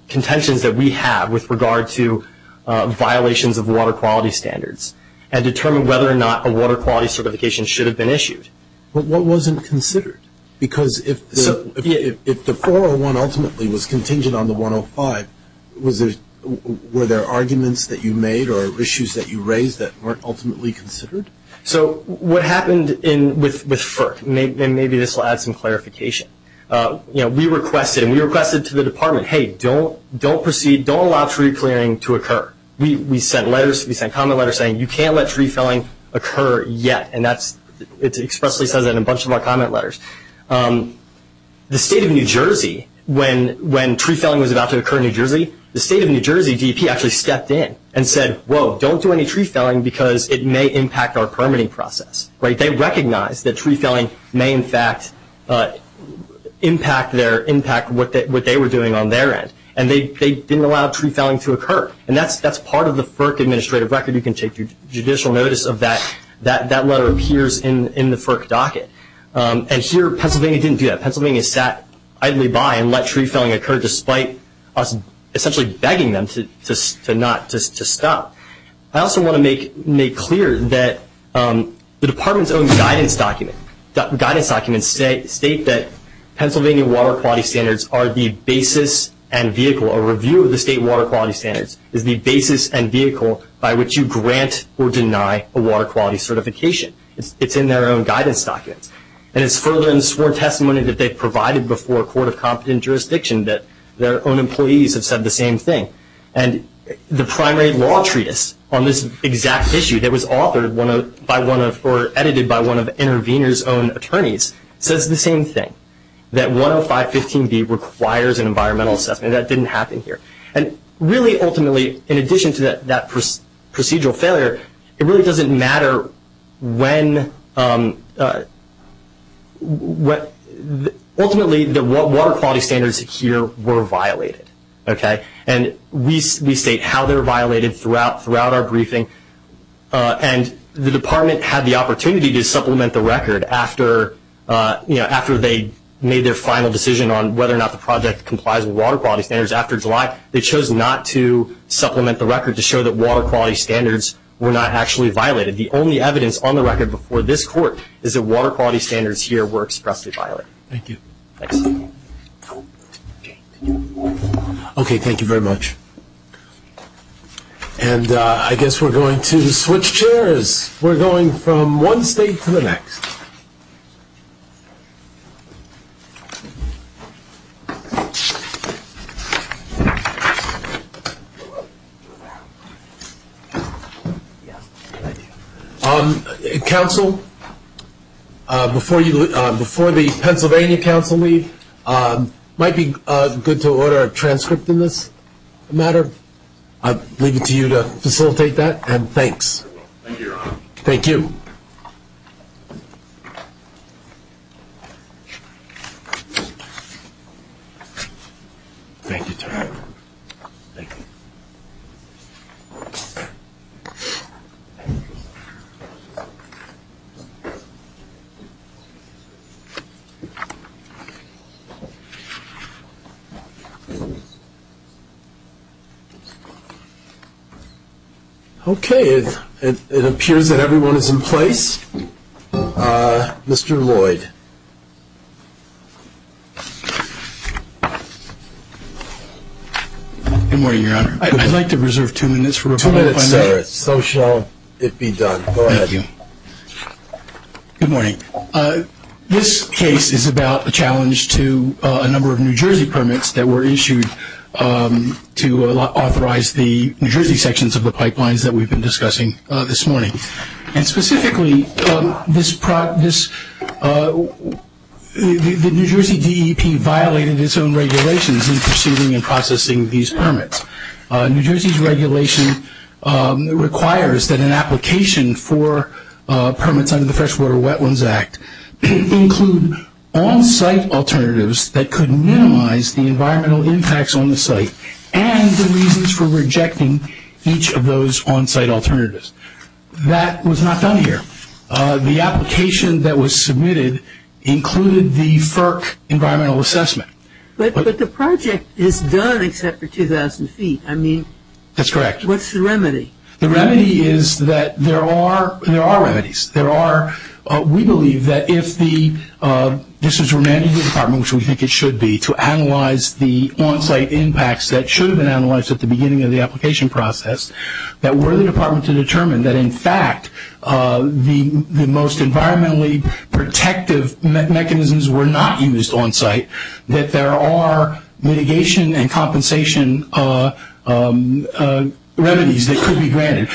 contentions that we have with regard to violations of water quality standards and determine whether or not a water quality certification should have been issued. But what wasn't considered? Because if the 401 ultimately was contingent on the 105, were there arguments that you made or issues that you raised that weren't ultimately considered? So what happened with FERC, and maybe this will add some clarification, we requested to the department, hey, don't allow tree clearing to occur. We sent letters, we sent comment letters saying you can't let tree felling occur yet, and it expressly says that in a bunch of our comment letters. The state of New Jersey, when tree felling was about to occur in New Jersey, the state of New Jersey DEP actually stepped in and said, whoa, don't do any tree felling because it may impact our permitting process. They recognized that tree felling may in fact impact what they were doing on their end, and they didn't allow tree felling to occur. And that's part of the FERC administrative record. You can take judicial notice of that. That letter appears in the FERC docket. And here Pennsylvania didn't do that. Pennsylvania sat idly by and let tree felling occur despite us essentially begging them to stop. I also want to make clear that the department's own guidance documents state that Pennsylvania water quality standards are the basis and vehicle, by which you grant or deny a water quality certification. It's in their own guidance documents. And it's further in sworn testimony that they've provided before a court of competent jurisdiction that their own employees have said the same thing. And the primary law treatise on this exact issue that was authored by one of or edited by one of the intervener's own attorneys says the same thing, that 10515B requires an environmental assessment. That didn't happen here. And really ultimately, in addition to that procedural failure, it really doesn't matter when ultimately the water quality standards here were violated. And we state how they were violated throughout our briefing. And the department had the opportunity to supplement the record after they made their final decision on whether or not the project complies with water quality standards after July. They chose not to supplement the record to show that water quality standards were not actually violated. The only evidence on the record before this court is that water quality standards here were expressly violated. Thank you. Thanks. Okay, thank you very much. And I guess we're going to switch chairs. We're going from one state to the next. Counsel, before the Pennsylvania counsel leaves, it might be good to order a transcript in this matter. I'll leave it to you to facilitate that, and thanks. Thank you. Thank you. Thank you. Thank you. Okay. Okay, it appears that everyone is in place. Mr. Lloyd. Good morning, Your Honor. I would like to reserve two minutes for rebuttal on that. So shall it be done. Go ahead. Thank you. Good morning. This case is about a challenge to a number of New Jersey permits that were issued to authorize the New Jersey sections of the pipelines that we've been discussing this morning. And specifically, the New Jersey DEP violated its own regulations in pursuing and processing these permits. New Jersey's regulation requires that an application for permits under the Freshwater Wetlands Act include on-site alternatives that could minimize the environmental impacts on the site and the reasons for rejecting each of those on-site alternatives. That was not done here. The application that was submitted included the FERC environmental assessment. But the project is done except for 2,000 feet. I mean. That's correct. What's the remedy? The remedy is that there are remedies. There are, we believe that if the, this is remanded to the department, which we think it should be, to analyze the on-site impacts that should have been analyzed at the beginning of the application process, that were the department to determine that, in fact, the most environmentally protective mechanisms were not used on-site, that there are mitigation and compensation remedies that could be granted.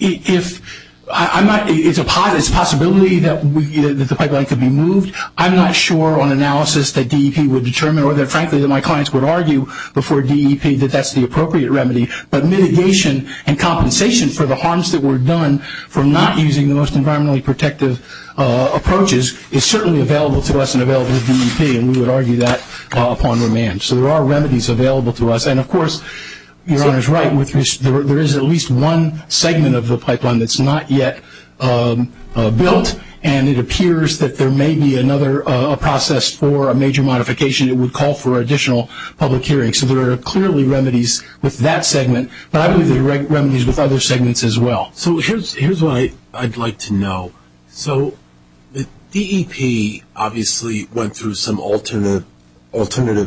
If I'm not, it's a possibility that the pipeline could be moved. I'm not sure on analysis that DEP would determine or that, frankly, that my clients would argue before DEP that that's the appropriate remedy. But mitigation and compensation for the harms that were done from not using the most environmentally protective approaches is certainly available to us and available to DEP, and we would argue that upon remand. So there are remedies available to us. And, of course, Your Honor is right. There is at least one segment of the pipeline that's not yet built, and it appears that there may be another process for a major modification that would call for additional public hearings. So there are clearly remedies with that segment, but I believe there are remedies with other segments as well. So here's what I'd like to know. So DEP obviously went through some alternative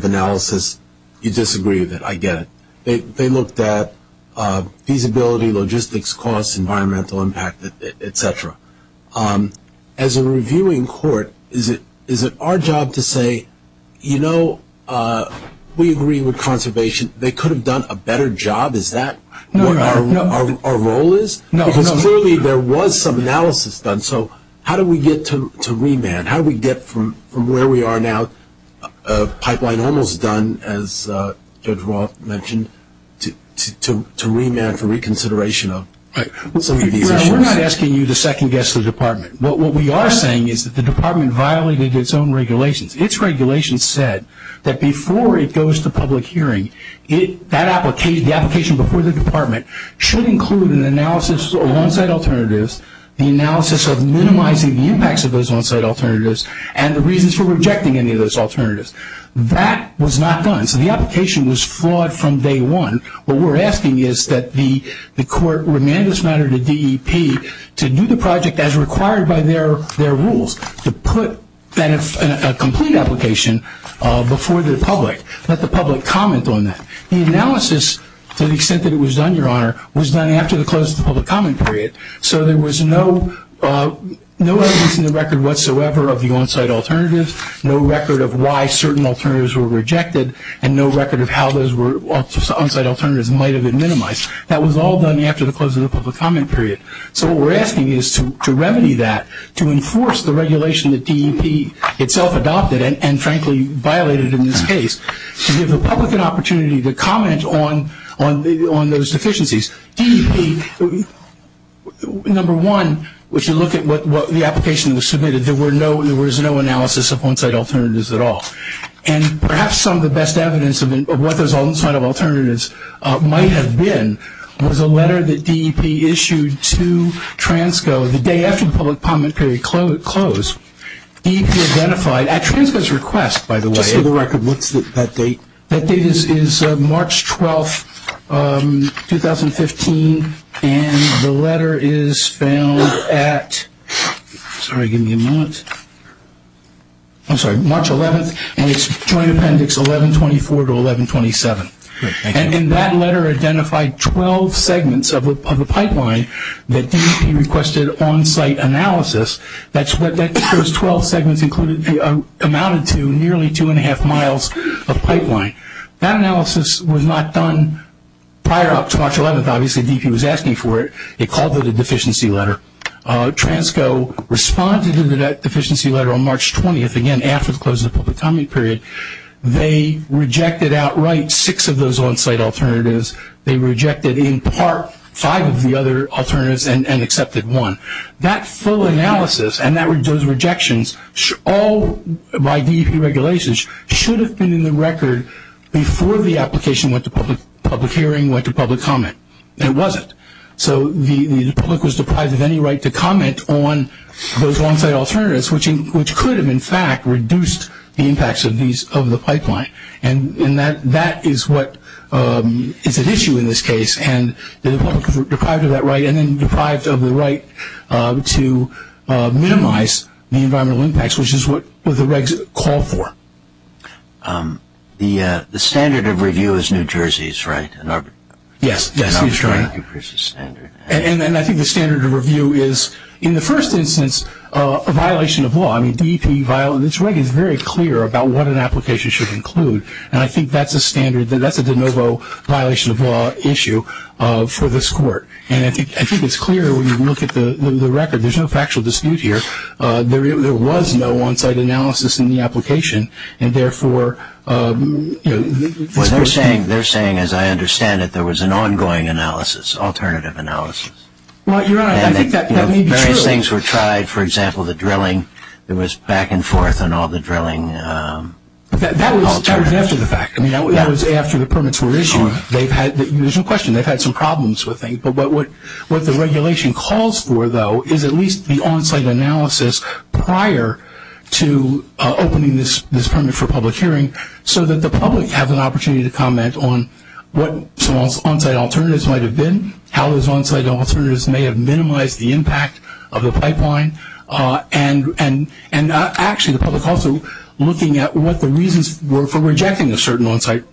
analysis. You disagree with it. I get it. They looked at feasibility, logistics costs, environmental impact, et cetera. As a reviewing court, is it our job to say, you know, we agree with conservation. They could have done a better job. Is that what our role is? Because clearly there was some analysis done. So how do we get to remand? How do we get from where we are now, pipeline almost done, as Judge Roth mentioned, to remand for reconsideration of some of the issues? We're not asking you to second-guess the Department. What we are saying is that the Department violated its own regulations. Its regulations said that before it goes to public hearing, the application before the Department should include an analysis of on-site alternatives, the analysis of minimizing the impacts of those on-site alternatives, and the reasons for rejecting any of those alternatives. That was not done. So the application was flawed from day one. What we're asking is that the court remand this matter to DEP to do the project as required by their rules, to put a complete application before the public, let the public comment on that. The analysis, to the extent that it was done, Your Honor, was done after the close of the public comment period. So there was no evidence in the record whatsoever of the on-site alternatives, no record of why certain alternatives were rejected, and no record of how those on-site alternatives might have been minimized. That was all done after the close of the public comment period. So what we're asking is to remedy that, to enforce the regulation that DEP itself adopted and, frankly, violated in this case, to give the public an opportunity to comment on those deficiencies. DEP, number one, if you look at what the application submitted, there was no analysis of on-site alternatives at all. And perhaps some of the best evidence of what those on-site alternatives might have been was a letter that DEP issued to TRANSCO. The day after public comment period closed, DEP identified, at TRANSCO's request, by the way, That date is March 12th, 2015, and the letter is found at, sorry, give me a minute. I'm sorry, March 11th, and it's TRAN appendix 1124 to 1127. And in that letter identified 12 segments of a pipeline that DEP requested on-site analysis. Those 12 segments amounted to nearly two and a half miles of pipeline. That analysis was not done prior to March 11th. Obviously, DEP was asking for it. It called it a deficiency letter. TRANSCO responded to that deficiency letter on March 20th, again, after the close of the public comment period. They rejected outright six of those on-site alternatives. They rejected in part five of the other alternatives and accepted one. That full analysis and those rejections, all by DEP regulations, should have been in the record before the application went to public hearing, went to public comment, and it wasn't. So the public was deprived of any right to comment on those on-site alternatives, which could have, in fact, reduced the impacts of the pipeline. And that is what is at issue in this case. And the public was deprived of that right and then deprived of the right to minimize the environmental impacts, which is what the regs call for. The standard of review is New Jersey's, right? Yes. And I think the standard of review is, in the first instance, a violation of law. This reg is very clear about what an application should include, and I think that's a standard, that's a de novo violation of law issue for this court. And I think it's clear when you look at the record. There's no factual dispute here. There was no on-site analysis in the application, and therefore, you know, They're saying, as I understand it, there was an ongoing analysis, alternative analysis. Well, Your Honor, I think that may be true. Various things were tried. For example, the drilling. There was back and forth on all the drilling alternatives. That was after the fact. I mean, that was after the permits were issued. There's no question. They've had some problems with things. But what the regulation calls for, though, is at least the on-site analysis prior to opening this permit for public hearing so that the public has an opportunity to comment on what some on-site alternatives might have been, how those on-site alternatives may have minimized the impact of the pipeline, and actually the public also looking at what the reasons were for rejecting the certain on-site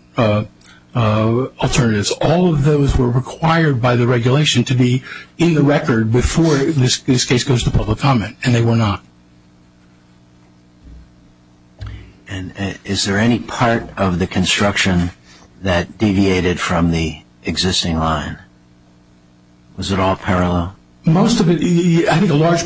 alternatives. All of those were required by the regulation to be in the record before this case goes to public comment, and they were not. And is there any part of the construction that deviated from the existing line? Was it all parallel? Most of it, I think a large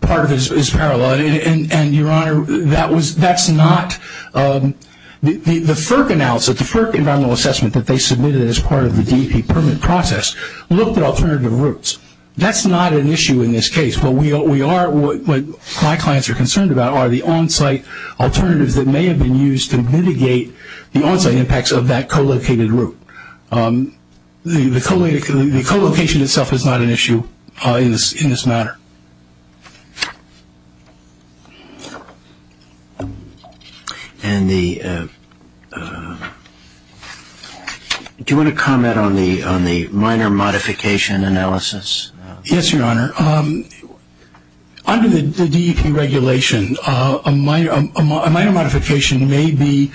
part of it is parallel, and, Your Honor, that's not the FERC analysis, the FERC environmental assessment that they submitted as part of the DEP permit process looked at alternative routes. That's not an issue in this case. What my clients are concerned about are the on-site alternatives that may have been used to mitigate the on-site impacts of that co-located route. The co-location itself is not an issue in this matter. Do you want to comment on the minor modification analysis? Yes, Your Honor. Under the DEP regulation, a minor modification may be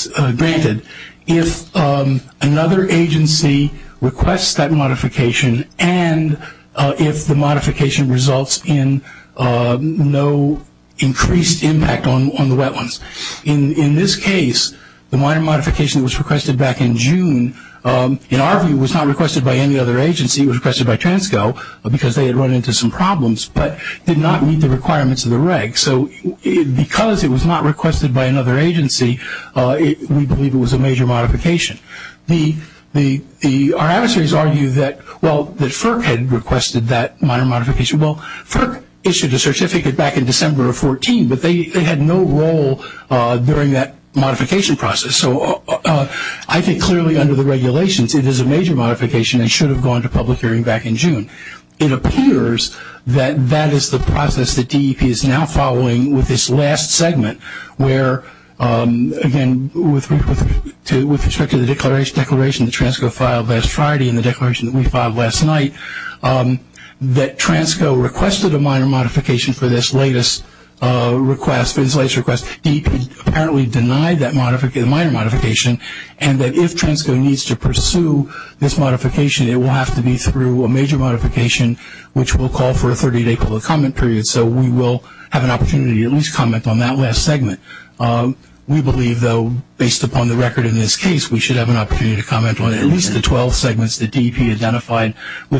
granted if another agency requests that modification and if the modification results in no increased impact on the wetlands. In this case, the minor modification was requested back in June, and arguably was not requested by any other agency. It was requested by Transco because they had run into some problems but did not meet the requirements of the reg. So because it was not requested by another agency, we believe it was a major modification. Our adversaries argue that, well, that FERC had requested that minor modification. Well, FERC issued a certificate back in December of 14, but they had no role during that modification process. So I think clearly under the regulations, it is a major modification and should have gone to public hearing back in June. It appears that that is the process that DEP is now following with this last segment where, again, with respect to the declaration that Transco filed last Friday and the declaration that we filed last night, that Transco requested a minor modification for this latest request. DEP apparently denied that minor modification and that if Transco needs to pursue this modification, it will have to be through a major modification, which will call for a 30-day public comment period. So we will have an opportunity to at least comment on that last segment. We believe, though, based upon the record in this case, we should have an opportunity to comment on at least the 12 segments that DEP identified in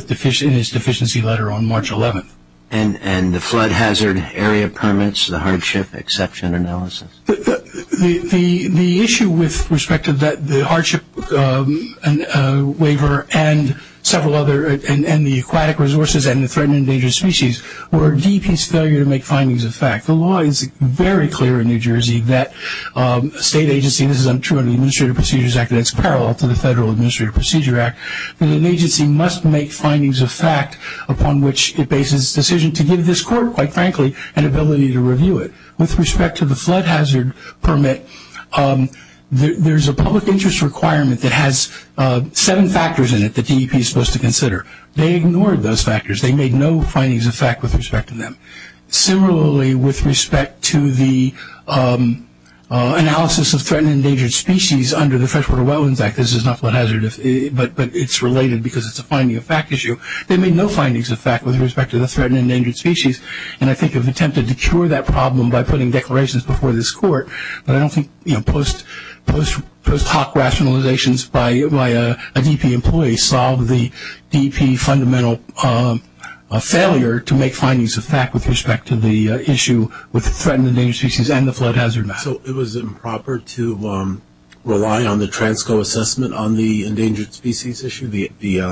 its deficiency letter on March 11. And the flood hazard area permits, the hardship exception analysis? The issue with respect to the hardship waiver and several other, and the aquatic resources and the threatened and endangered species were DEP's failure to make findings of fact. The law is very clear in New Jersey that a state agency, this is true of the Administrative Procedures Act, and it's parallel to the Federal Administrative Procedure Act, that an agency must make findings of fact upon which it bases its decision to give this court, quite frankly, an ability to review it. With respect to the flood hazard permit, there's a public interest requirement that has seven factors in it that DEP is supposed to consider. They ignored those factors. They made no findings of fact with respect to them. Similarly, with respect to the analysis of threatened and endangered species under the freshwater well, in fact, this is not flood hazard, but it's related because it's a finding of fact issue. They made no findings of fact with respect to the threatened and endangered species, and I think have attempted to cure that problem by putting declarations before this court, but I don't think post hoc rationalizations by a DEP employee solved the DEP fundamental failure to make findings of fact with respect to the issue with threatened and endangered species and the flood hazard matter. So it was improper to rely on the transco assessment on the endangered species issue, the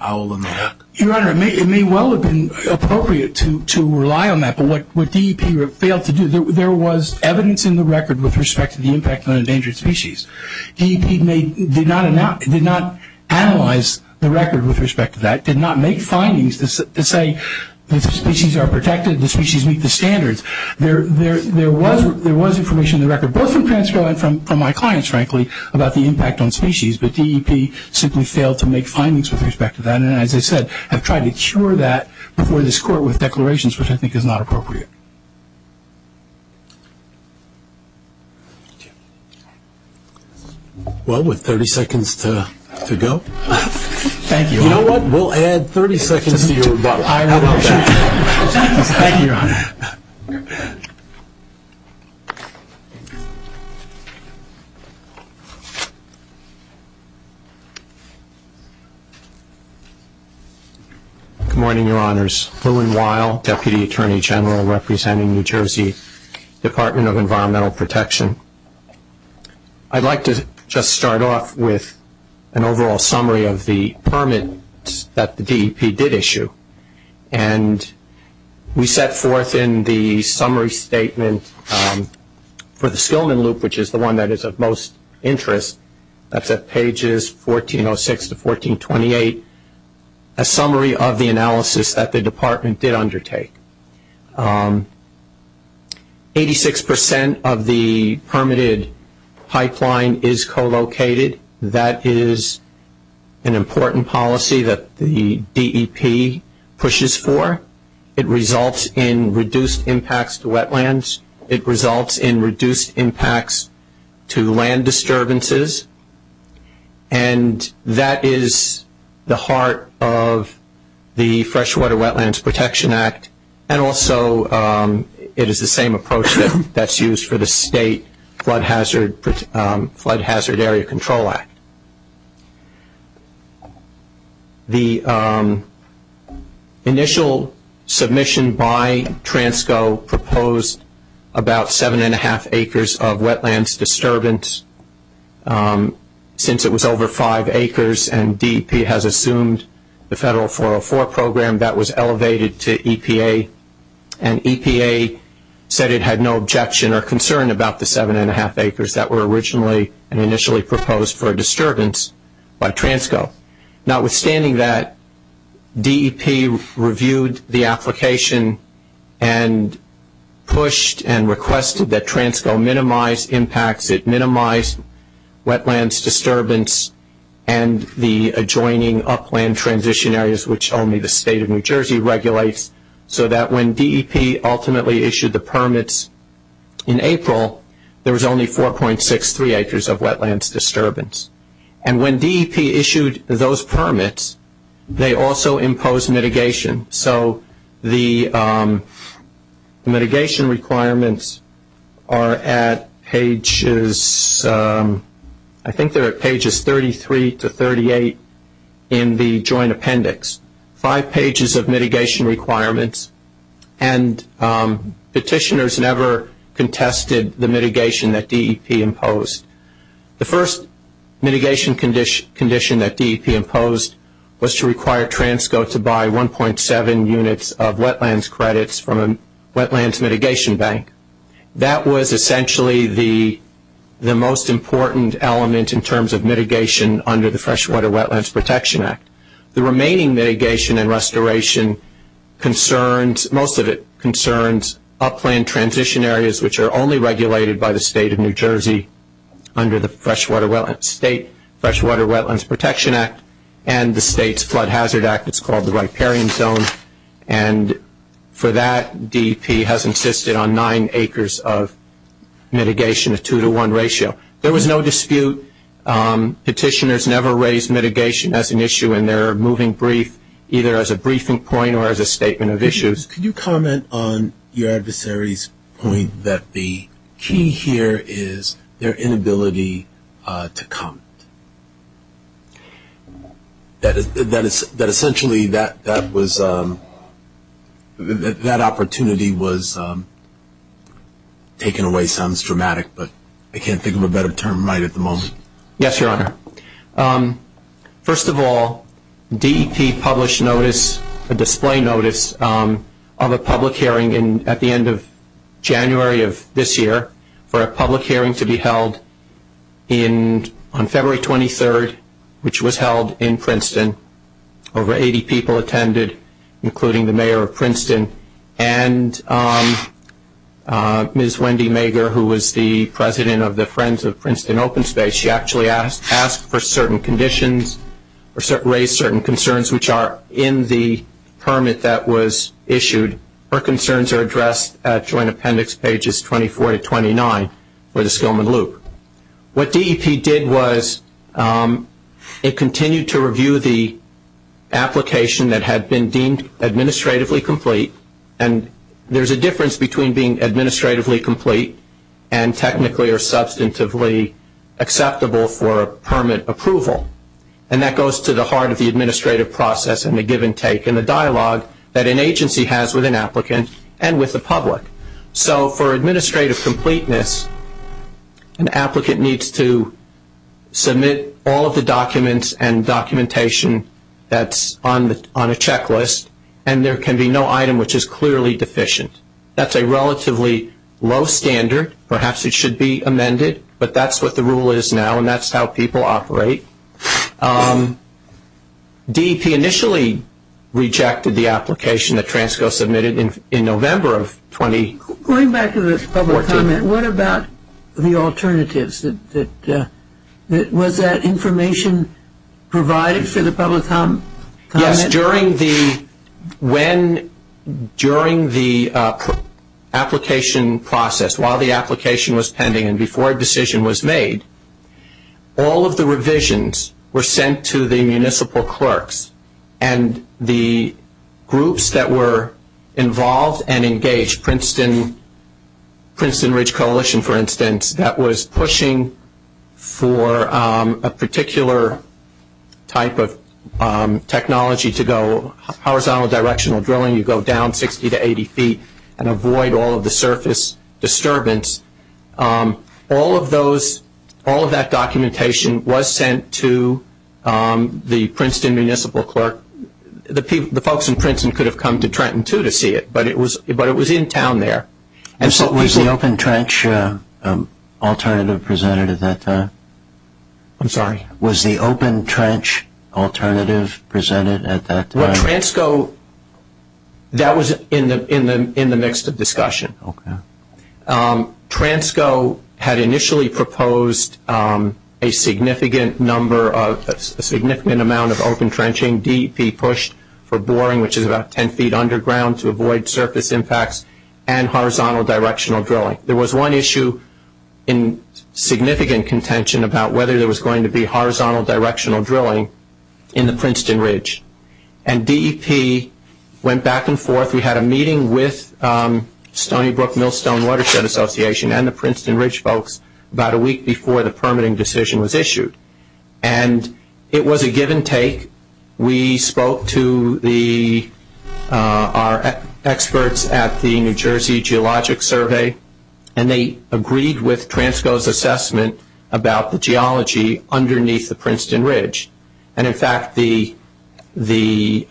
owl and the duck? Your Honor, it may well have been appropriate to rely on that, but what DEP failed to do, there was evidence in the record with respect to the impact on endangered species. DEP did not analyze the record with respect to that, did not make findings to say that the species are protected, the species meet the standards. There was information in the record, both transcribed from my clients, frankly, about the impact on species, but DEP simply failed to make findings with respect to that, and as I said, have tried to cure that before this court with declarations, which I think is not appropriate. Well, with 30 seconds to go. Thank you. You know what? We'll add 30 seconds to your vote. Thank you, Your Honor. Good morning, Your Honors. Erwin Weil, Deputy Attorney General representing New Jersey Department of Environmental Protection. I'd like to just start off with an overall summary of the permits that the DEP did issue, and we set forth in the summary statement for the Skillman Loop, which is the one that is of most interest, that's at pages 1406 to 1428, a summary of the analysis that the department did undertake. Eighty-six percent of the permitted pipeline is co-located. That is an important policy that the DEP pushes for. It results in reduced impacts to wetlands. It results in reduced impacts to land disturbances, and that is the heart of the Freshwater Wetlands Protection Act, and also it is the same approach that's used for the State Flood Hazard Area Control Act. The initial submission by TRANSCO proposed about seven-and-a-half acres of wetlands disturbance. Since it was over five acres and DEP has assumed the federal 404 program, that was elevated to EPA, and EPA said it had no objection or concern about the seven-and-a-half acres that were originally proposed for disturbance by TRANSCO. Notwithstanding that, DEP reviewed the application and pushed and requested that TRANSCO minimize impacts. It minimized wetlands disturbance and the adjoining upland transition areas, which only the State of New Jersey regulates, so that when DEP ultimately issued the permits in April, there was only 4.63 acres of wetlands disturbance. And when DEP issued those permits, they also imposed mitigation. So the mitigation requirements are at pages, I think they're at pages 33 to 38 in the joint appendix, five pages of mitigation requirements, and petitioners never contested the mitigation that DEP imposed. The first mitigation condition that DEP imposed was to require TRANSCO to buy 1.7 units of wetlands credits from a wetlands mitigation bank. That was essentially the most important element in terms of mitigation under the Freshwater Wetlands Protection Act. The remaining mitigation and restoration concerns, most of it concerns, upland transition areas, which are only regulated by the State of New Jersey under the State Freshwater Wetlands Protection Act and the State's Flood Hazard Act, it's called the Riparian Zone. And for that, DEP has insisted on nine acres of mitigation, a two-to-one ratio. There was no dispute. Petitioners never raised mitigation as an issue in their moving brief, either as a briefing point or as a statement of issues. Could you comment on your adversary's point that the key here is their inability to comment? That essentially that was the opportunity was taken away. That sounds dramatic, but I can't think of a better term right at the moment. Yes, Your Honor. First of all, DEP published a display notice of a public hearing at the end of January of this year for a public hearing to be held on February 23rd, which was held in Princeton. Over 80 people attended, including the mayor of Princeton and Ms. Wendy Mager, who was the president of the Friends of Princeton Open Space. She actually asked for certain conditions or raised certain concerns, which are in the permit that was issued. Her concerns are addressed at Joint Appendix Pages 24 to 29 for the Stillman Loop. What DEP did was it continued to review the application that had been deemed administratively complete, and there's a difference between being administratively complete and technically or substantively acceptable for permit approval, and that goes to the heart of the administrative process and the give and take and the dialogue that an agency has with an applicant and with the public. So for administrative completeness, an applicant needs to submit all of the documents and documentation that's on a checklist, and there can be no item which is clearly deficient. That's a relatively low standard. Perhaps it should be amended, but that's what the rule is now, and that's how people operate. DEP initially rejected the application that Transco submitted in November of 2014. Going back to the public comment, what about the alternatives? Was that information provided to the public comment? Yes. During the application process, while the application was pending and before a decision was made, all of the revisions were sent to the municipal clerks and the groups that were involved and engaged, Princeton Ridge Coalition, for instance, that was pushing for a particular type of technology to go horizontal directional drilling. You go down 60 to 80 feet and avoid all of the surface disturbance. All of that documentation was sent to the Princeton municipal clerk. The folks in Princeton could have come to Trenton, too, to see it, but it was in town there. Was the open trench alternative presented at that time? I'm sorry? Was the open trench alternative presented at that time? Transco, that was in the midst of discussion. Transco had initially proposed a significant amount of open trenching, DEP pushed for boring, which is about 10 feet underground to avoid surface impacts, and horizontal directional drilling. There was one issue in significant contention about whether there was going to be DEP went back and forth. We had a meeting with Stony Brook Millstone Watershed Association and the Princeton Ridge folks about a week before the permitting decision was issued. It was a give and take. We spoke to our experts at the New Jersey Geologic Survey, and they agreed with Transco's assessment about the geology underneath the Princeton Ridge. In fact, the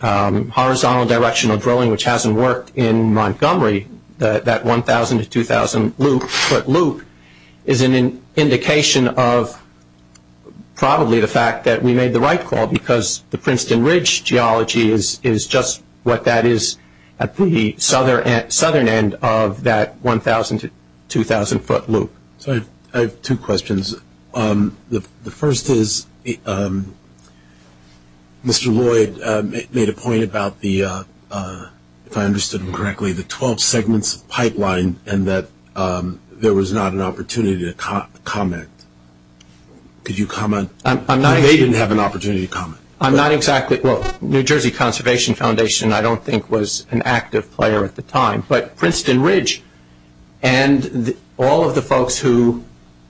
horizontal directional drilling, which hasn't worked in Montgomery, that 1,000 to 2,000 foot loop is an indication of probably the fact that we made the right call because the Princeton Ridge geology is just what that is at the southern end of that 1,000 to 2,000 foot loop. I have two questions. The first is Mr. Lloyd made a point about the, if I understood him correctly, the 12-segment pipeline and that there was not an opportunity to comment. Could you comment? They didn't have an opportunity to comment. I'm not exactly, well, New Jersey Conservation Foundation I don't think was an active player at the time, but Princeton Ridge and all of the folks who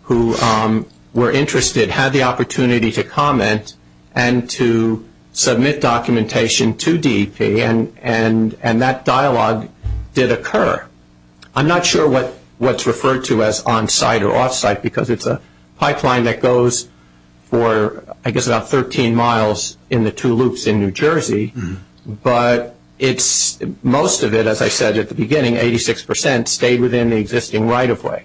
were interested had the opportunity to comment and to submit documentation to DEP, and that dialogue did occur. I'm not sure what's referred to as on-site or off-site because it's a pipeline that goes for, I guess, about 13 miles in the two loops in New Jersey, but most of it, as I said at the beginning, 86% stayed within the existing right-of-way.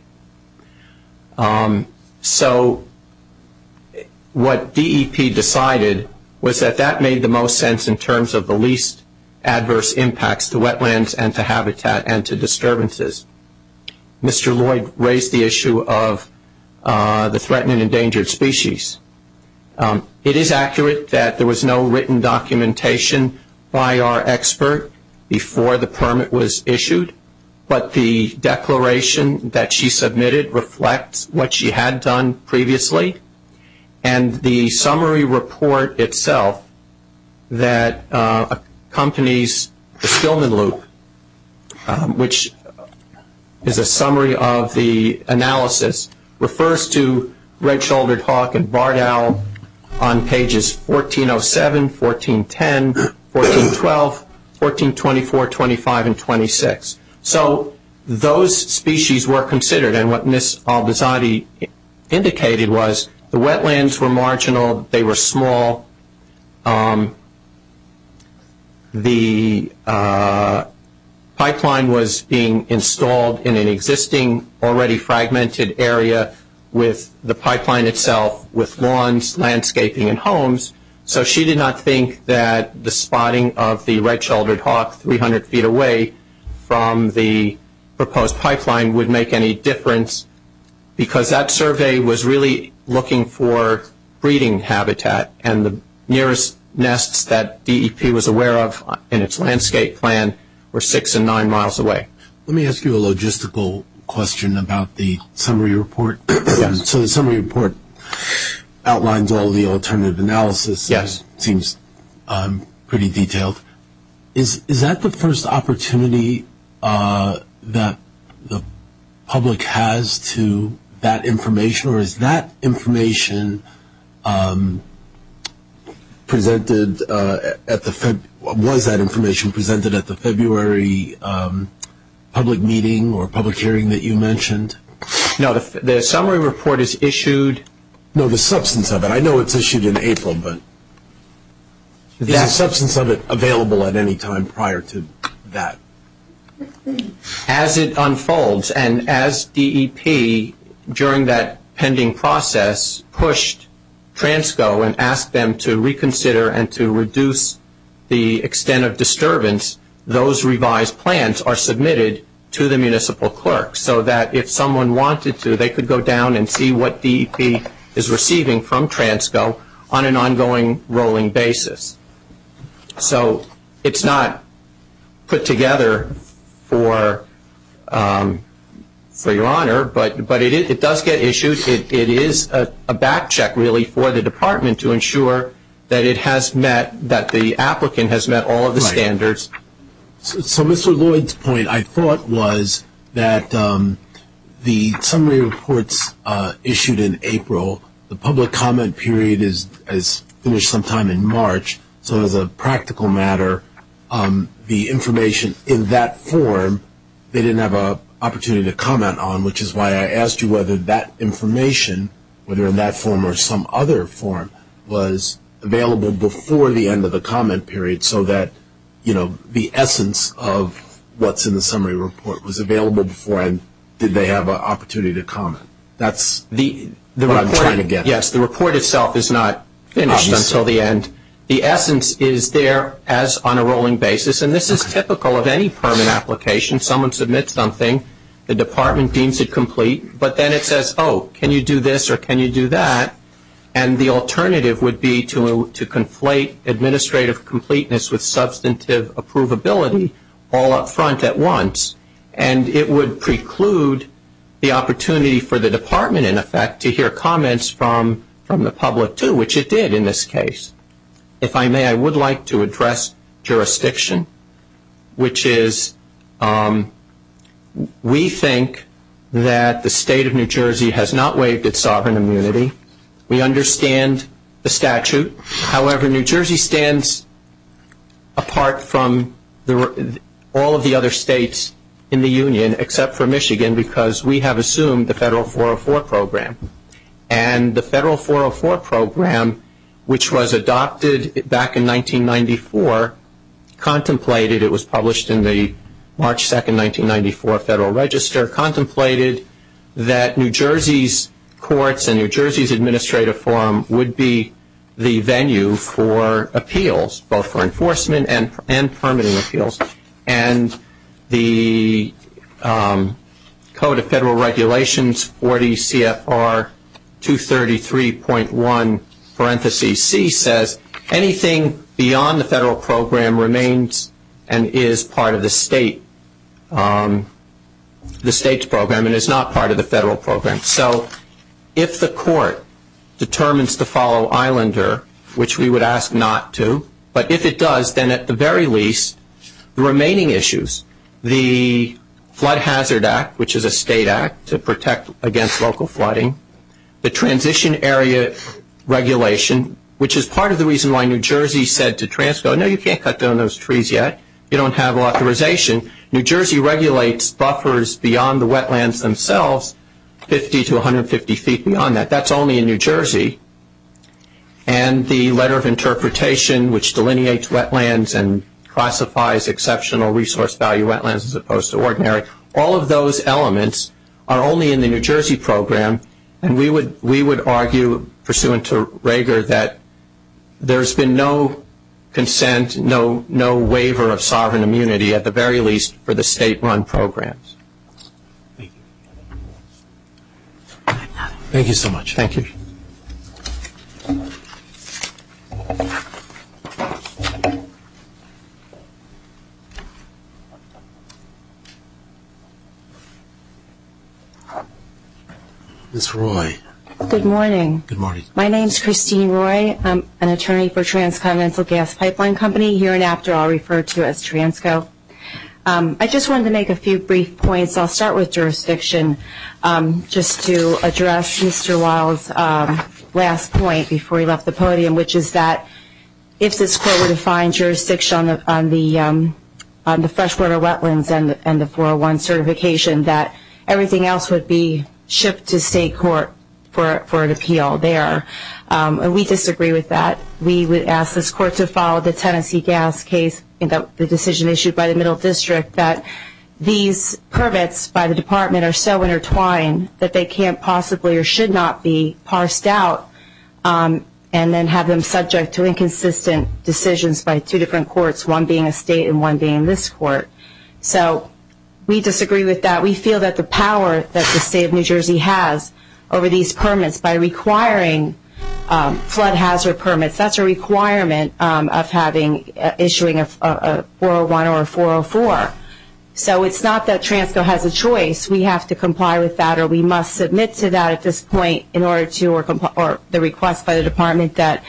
What DEP decided was that that made the most sense in terms of the least adverse impacts to wetlands and to habitat and to disturbances. Mr. Lloyd raised the issue of the threatened and endangered species. It is accurate that there was no written documentation by our expert before the permit was issued, but the declaration that she submitted reflects what she had done previously, and the summary report itself that accompanies the Sheldon Loop, which is a summary of the analysis, refers to red-shouldered hawk and barred owl on pages 1407, 1410, 1412, 1424, 1425, and 1426. So those species were considered, and what Ms. Albizadi indicated was the wetlands were marginal, they were small, the pipeline was being installed in an existing already fragmented area with the pipeline itself, with lawns, landscaping, and homes, so she did not think that the spotting of the red-shouldered hawk 300 feet away from the proposed pipeline would make any difference because that survey was really looking for breeding habitat, and the nearest nests that DEP was aware of in its landscape plan were six and nine miles away. Let me ask you a logistical question about the summary report. So the summary report outlines all the alternative analysis. Yes. It seems pretty detailed. Is that the first opportunity that the public has to that information, or was that information presented at the February public meeting or public hearing that you mentioned? No, the summary report is issued. No, the substantive. I know it's issued in April. Is the substantive available at any time prior to that? As it unfolds, and as DEP, during that pending process, pushed Transco and asked them to reconsider and to reduce the extent of disturbance, those revised plans are submitted to the municipal clerk so that if someone wanted to, they could go down and see what DEP is receiving from Transco on an ongoing rolling basis. So it's not put together for your honor, but it does get issued. It is a back check really for the department to ensure that it has met, that the applicant has met all of the standards. So Mr. Lloyd's point, I thought, was that the summary reports issued in April, the public comment period is finished sometime in March. So as a practical matter, the information in that form, they didn't have an opportunity to comment on, which is why I asked you whether that information, whether in that form or some other form was available before the end of the comment period so that, you know, the essence of what's in the summary report was available before and did they have an opportunity to comment. That's what I'm trying to get at. Yes, the report itself is not finished until the end. The essence is there as on a rolling basis, and this is typical of any permanent application. Someone submits something, the department deems it complete, but then it says, oh, can you do this or can you do that, and the alternative would be to conflate administrative completeness with substantive approvability all up front at once. And it would preclude the opportunity for the department, in effect, to hear comments from the public too, which it did in this case. If I may, I would like to address jurisdiction, which is we think that the state of New Jersey has not waived its sovereign immunity. We understand the statute. However, New Jersey stands apart from all of the other states in the union except for Michigan because we have assumed the federal 404 program. And the federal 404 program, which was adopted back in 1994, contemplated, it was published in the March 2, 1994 Federal Register, contemplated that New Jersey's courts and New Jersey's administrative forum would be the venue for appeals, both for enforcement and permitting appeals. And the Code of Federal Regulations 40 CFR 233.1 parenthesis C says, anything beyond the federal program remains and is part of the state's program and is not part of the federal program. So if the court determines to follow Islander, which we would ask not to, but if it does, then at the very least the remaining issues, the Flood Hazard Act, which is a state act to protect against local flooding, the transition area regulation, which is part of the reason why New Jersey said to Transco, no, you can't cut down those trees yet. You don't have authorization. New Jersey regulates buffers beyond the wetlands themselves, 50 to 150 feet beyond that. That's only in New Jersey. And the Letter of Interpretation, which delineates wetlands and classifies exceptional resource value wetlands as opposed to ordinary. All of those elements are only in the New Jersey program, and we would argue pursuant to Rager that there's been no consent, no waiver of sovereign immunity at the very least for the state-run programs. Thank you. Thank you so much. Thank you. Ms. Roy. Good morning. Good morning. My name is Christine Roy. I'm an attorney for Transcontinental Gas Pipeline Company, here and after all referred to as Transco. I just wanted to make a few brief points. I'll start with jurisdiction just to address Mr. Wild's last point before he left the podium, which is that if this court would find jurisdiction on the freshwater wetlands and the 401 certification, that everything else would be shipped to state court for an appeal there. And we disagree with that. We would ask this court to follow the Tennessee gas case, the decision issued by the middle district that these permits by the department are so intertwined that they can't possibly or should not be parsed out and then have them subject to inconsistent decisions by two different courts, one being a state and one being this court. So we disagree with that. We feel that the power that the state of New Jersey has over these permits by requiring flood hazard permits, that's a requirement of issuing a 401 or a 404. So it's not that Transco has a choice. We have to comply with that or we must submit to that at this point in order to or the request by the department that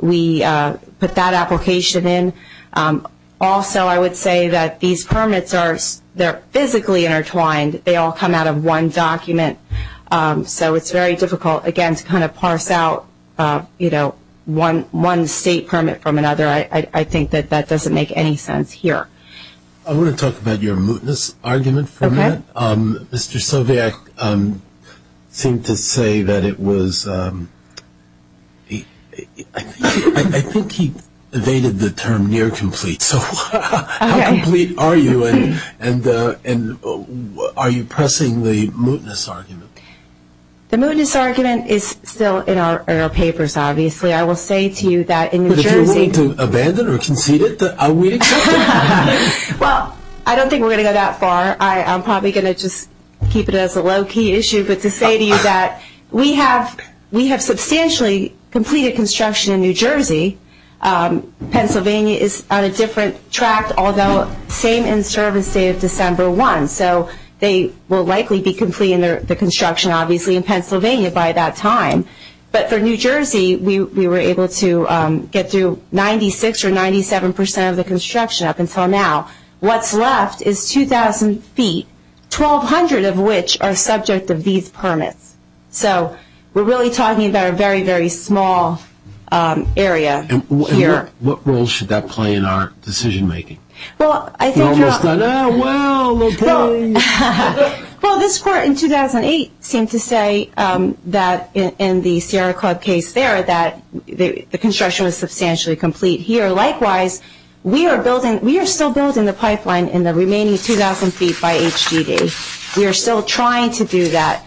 we put that application in. Also, I would say that these permits are physically intertwined. They all come out of one document. So it's very difficult, again, to kind of parse out, you know, one state permit from another. I think that that doesn't make any sense here. I want to talk about your mootness argument for a minute. Okay. Mr. Soviac seemed to say that it was ‑‑ I think he evaded the term near complete. Okay. How near complete are you and are you pressing the mootness argument? The mootness argument is still in our papers, obviously. I will say to you that in New Jersey ‑‑ But if you're willing to abandon or concede it, are we? Well, I don't think we're going to go that far. I'm probably going to just keep it as a low key issue. But to say to you that we have substantially completed construction in New Jersey. Pennsylvania is on a different track, although same in service as December 1. So they will likely be completing the construction, obviously, in Pennsylvania by that time. But for New Jersey, we were able to get through 96% or 97% of the construction up until now. What's left is 2,000 feet, 1,200 of which are subject to these permits. So we're really talking about a very, very small area here. And what role should that play in our decision making? Well, I think ‑‑ You're almost like, oh, wow. Well, this court in 2008 came to say that in the Sierra Club case there that the construction was substantially complete here. Likewise, we are still building the pipeline in the remaining 2,000 feet by HDD. We are still trying to do that.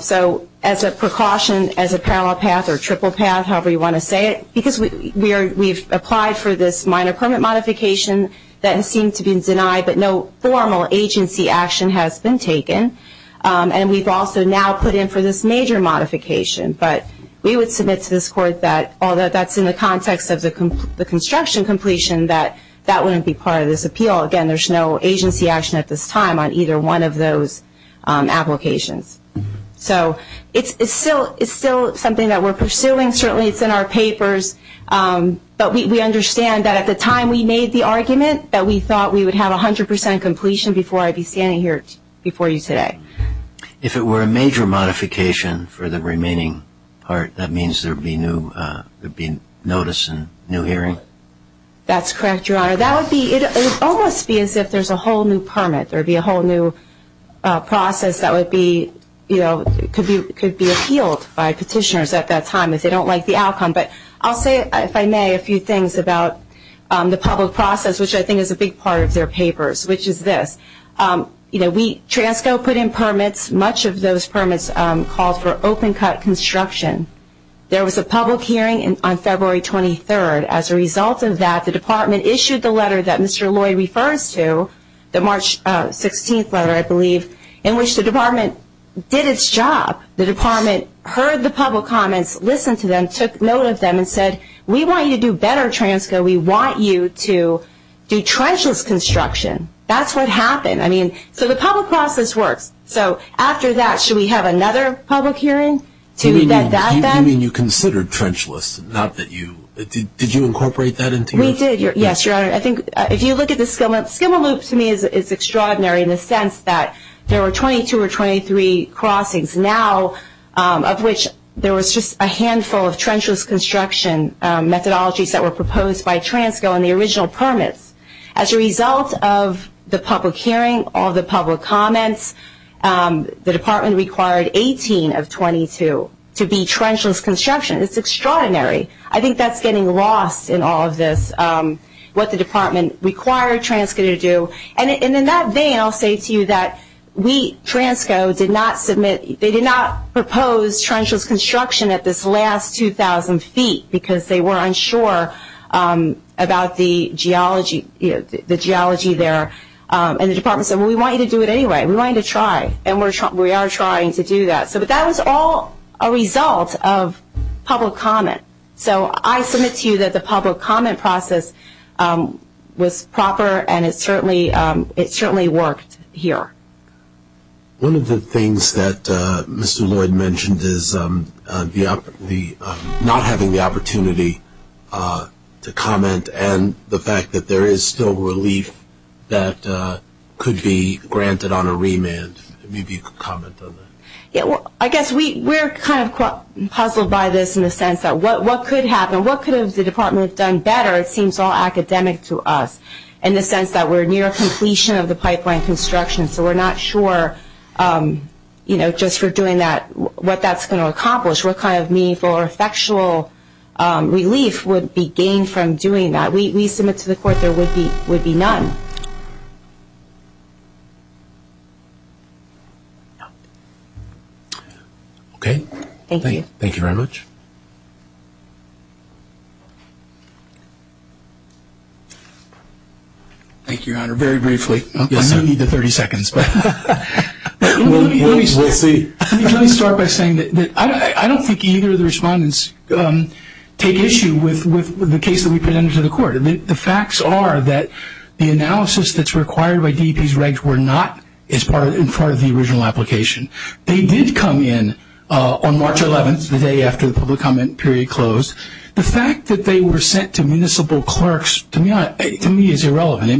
So as a precaution, as a parallel path or triple path, however you want to say it, because we've applied for this minor permit modification that seems to be denied, but no formal agency action has been taken. And we've also now put in for this major modification. But we would submit to this court that, although that's in the context of the construction completion, that that wouldn't be part of this appeal. Again, there's no agency action at this time on either one of those applications. So it's still something that we're pursuing. Certainly it's in our papers. But we understand that at the time we made the argument that we thought we would have 100% completion before I'd be standing here before you today. If it were a major modification for the remaining part, that means there would be notice and no hearing? That's correct, Your Honor. That would be, it would almost be as if there's a whole new permit. There would be a whole new process that would be, you know, could be appealed by petitioners at that time if they don't like the outcome. But I'll say, if I may, a few things about the public process, which I think is a big part of their papers, which is this. You know, we, TRANSCO put in permits. Much of those permits call for open-cut construction. There was a public hearing on February 23rd. As a result of that, the department issued the letter that Mr. Lloyd referred to, the March 16th letter, I believe, in which the department did its job. The department heard the public comments, listened to them, took note of them, and said, we want you to do better, TRANSCO. We want you to do trenchless construction. That's what happened. I mean, so the public process worked. So after that, should we have another public hearing? You mean you considered trenchless, not that you, did you incorporate that into your? We did, yes, Your Honor. I think if you look at the SCIMA loop, SCIMA loop to me is extraordinary in the sense that there were 22 or 23 crossings. Now, of which there was just a handful of trenchless construction methodologies that were proposed by TRANSCO in the original permits. As a result of the public hearing, all the public comments, the department required 18 of 22 to be trenchless construction. It's extraordinary. I think that's getting lost in all of this, what the department required TRANSCO to do. And in that vein, I'll say to you that we, TRANSCO, did not submit, they did not propose trenchless construction at this last 2,000 feet because they were unsure about the geology there. And the department said, well, we want you to do it anyway. We want you to try. And we are trying to do that. But that was all a result of public comment. So I submit to you that the public comment process was proper and it certainly worked here. One of the things that Mr. Lloyd mentioned is not having the opportunity to comment and the fact that there is still relief that could be granted on a remand. Maybe you could comment on that. Yeah, well, I guess we're kind of puzzled by this in the sense that what could happen, what could have the department done better, it seems all academic to us, in the sense that we're near completion of the pipeline construction. So we're not sure, you know, just for doing that, what that's going to accomplish, what kind of meaningful or factual relief would be gained from doing that. We submit to the court there would be none. Okay. Thank you. Thank you very much. Thank you, Your Honor. Very briefly. I don't need the 30 seconds, but let me start by saying that I don't think either of the respondents take issue with the case that we presented to the court. The facts are that the analysis that's required by DEP's regs were not as part of the original application. They did come in on March 11th, the day after the public comment period closed. The fact that they were sent to municipal clerks, to me, is irrelevant.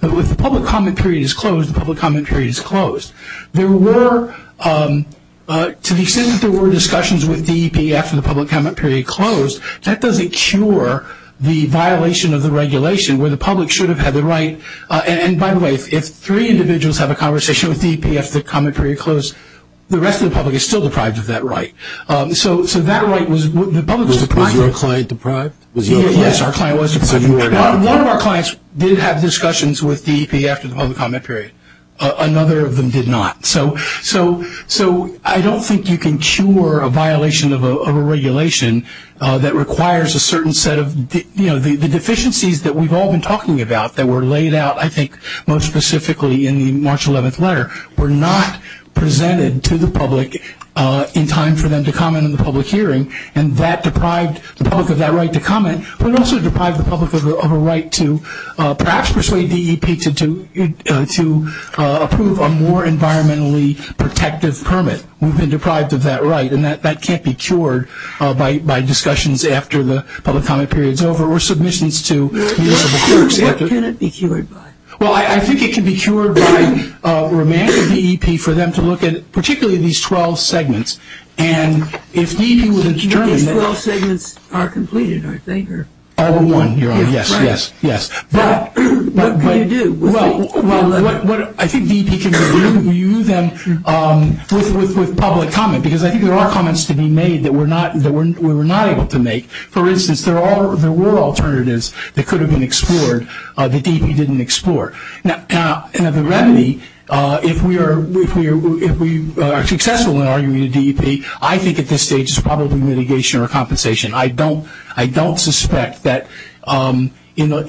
But if the public comment period is closed, the public comment period is closed. There were, to the extent that there were discussions with DEP after the public comment period closed, that doesn't cure the violation of the regulation where the public should have had the right. And, by the way, if three individuals have a conversation with DEP after the comment period is closed, the rest of the public is still deprived of that right. So that right was the public's right. Was your client deprived? Yes, our client was deprived. One of our clients did have discussions with DEP after the public comment period. Another of them did not. So I don't think you can cure a violation of a regulation that requires a certain set of, you know, the deficiencies that we've all been talking about that were laid out, I think, most specifically in the March 11th letter were not presented to the public in time for them to comment in the public hearing, and that deprived the public of that right to comment, but also deprived the public of a right to perhaps persuade DEP to approve a more environmentally protective permit. We've been deprived of that right, and that can't be cured by discussions after the public comment period is over or submissions to the courts. What can it be cured by? Well, I think it can be cured by remanding DEP for them to look at particularly these 12 segments, and if DEP was determined that- The 12 segments are completed, I think, or- All but one, yes, yes, yes. But- What can you do? Well, I think DEP can review them with public comment, because I think there are comments to be made that we're not able to make. For instance, there were alternatives that could have been explored that DEP didn't explore. Now, the remedy, if we are successful in arguing with DEP, I think at this stage it's probably mitigation or compensation. I don't suspect that it's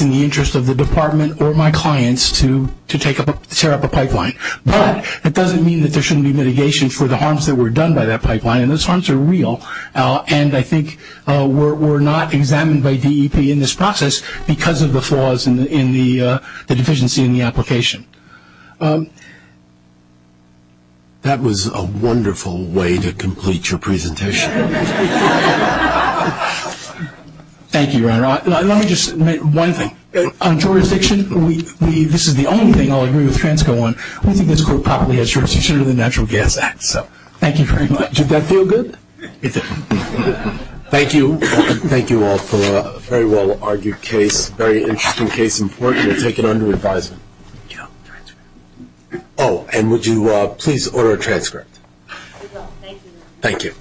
in the interest of the department or my clients to tear up a pipeline, but it doesn't mean that there shouldn't be mitigation for the harms that were done by that pipeline, and those harms are real, and I think we're not examined by DEP in this process because of the flaws in the deficiency in the application. Thank you. That was a wonderful way to complete your presentation. Thank you, Ronald. Let me just make one thing. On jurisdiction, this is the only thing I'll agree with Fransco on. We think this court properly has jurisdiction under the Natural Gas Act, so thank you very much. Did that feel good? Thank you. Thank you all for a very well-argued case. Very interesting case. Important to take it under advisement. Oh, and would you please order a transcript? Thank you.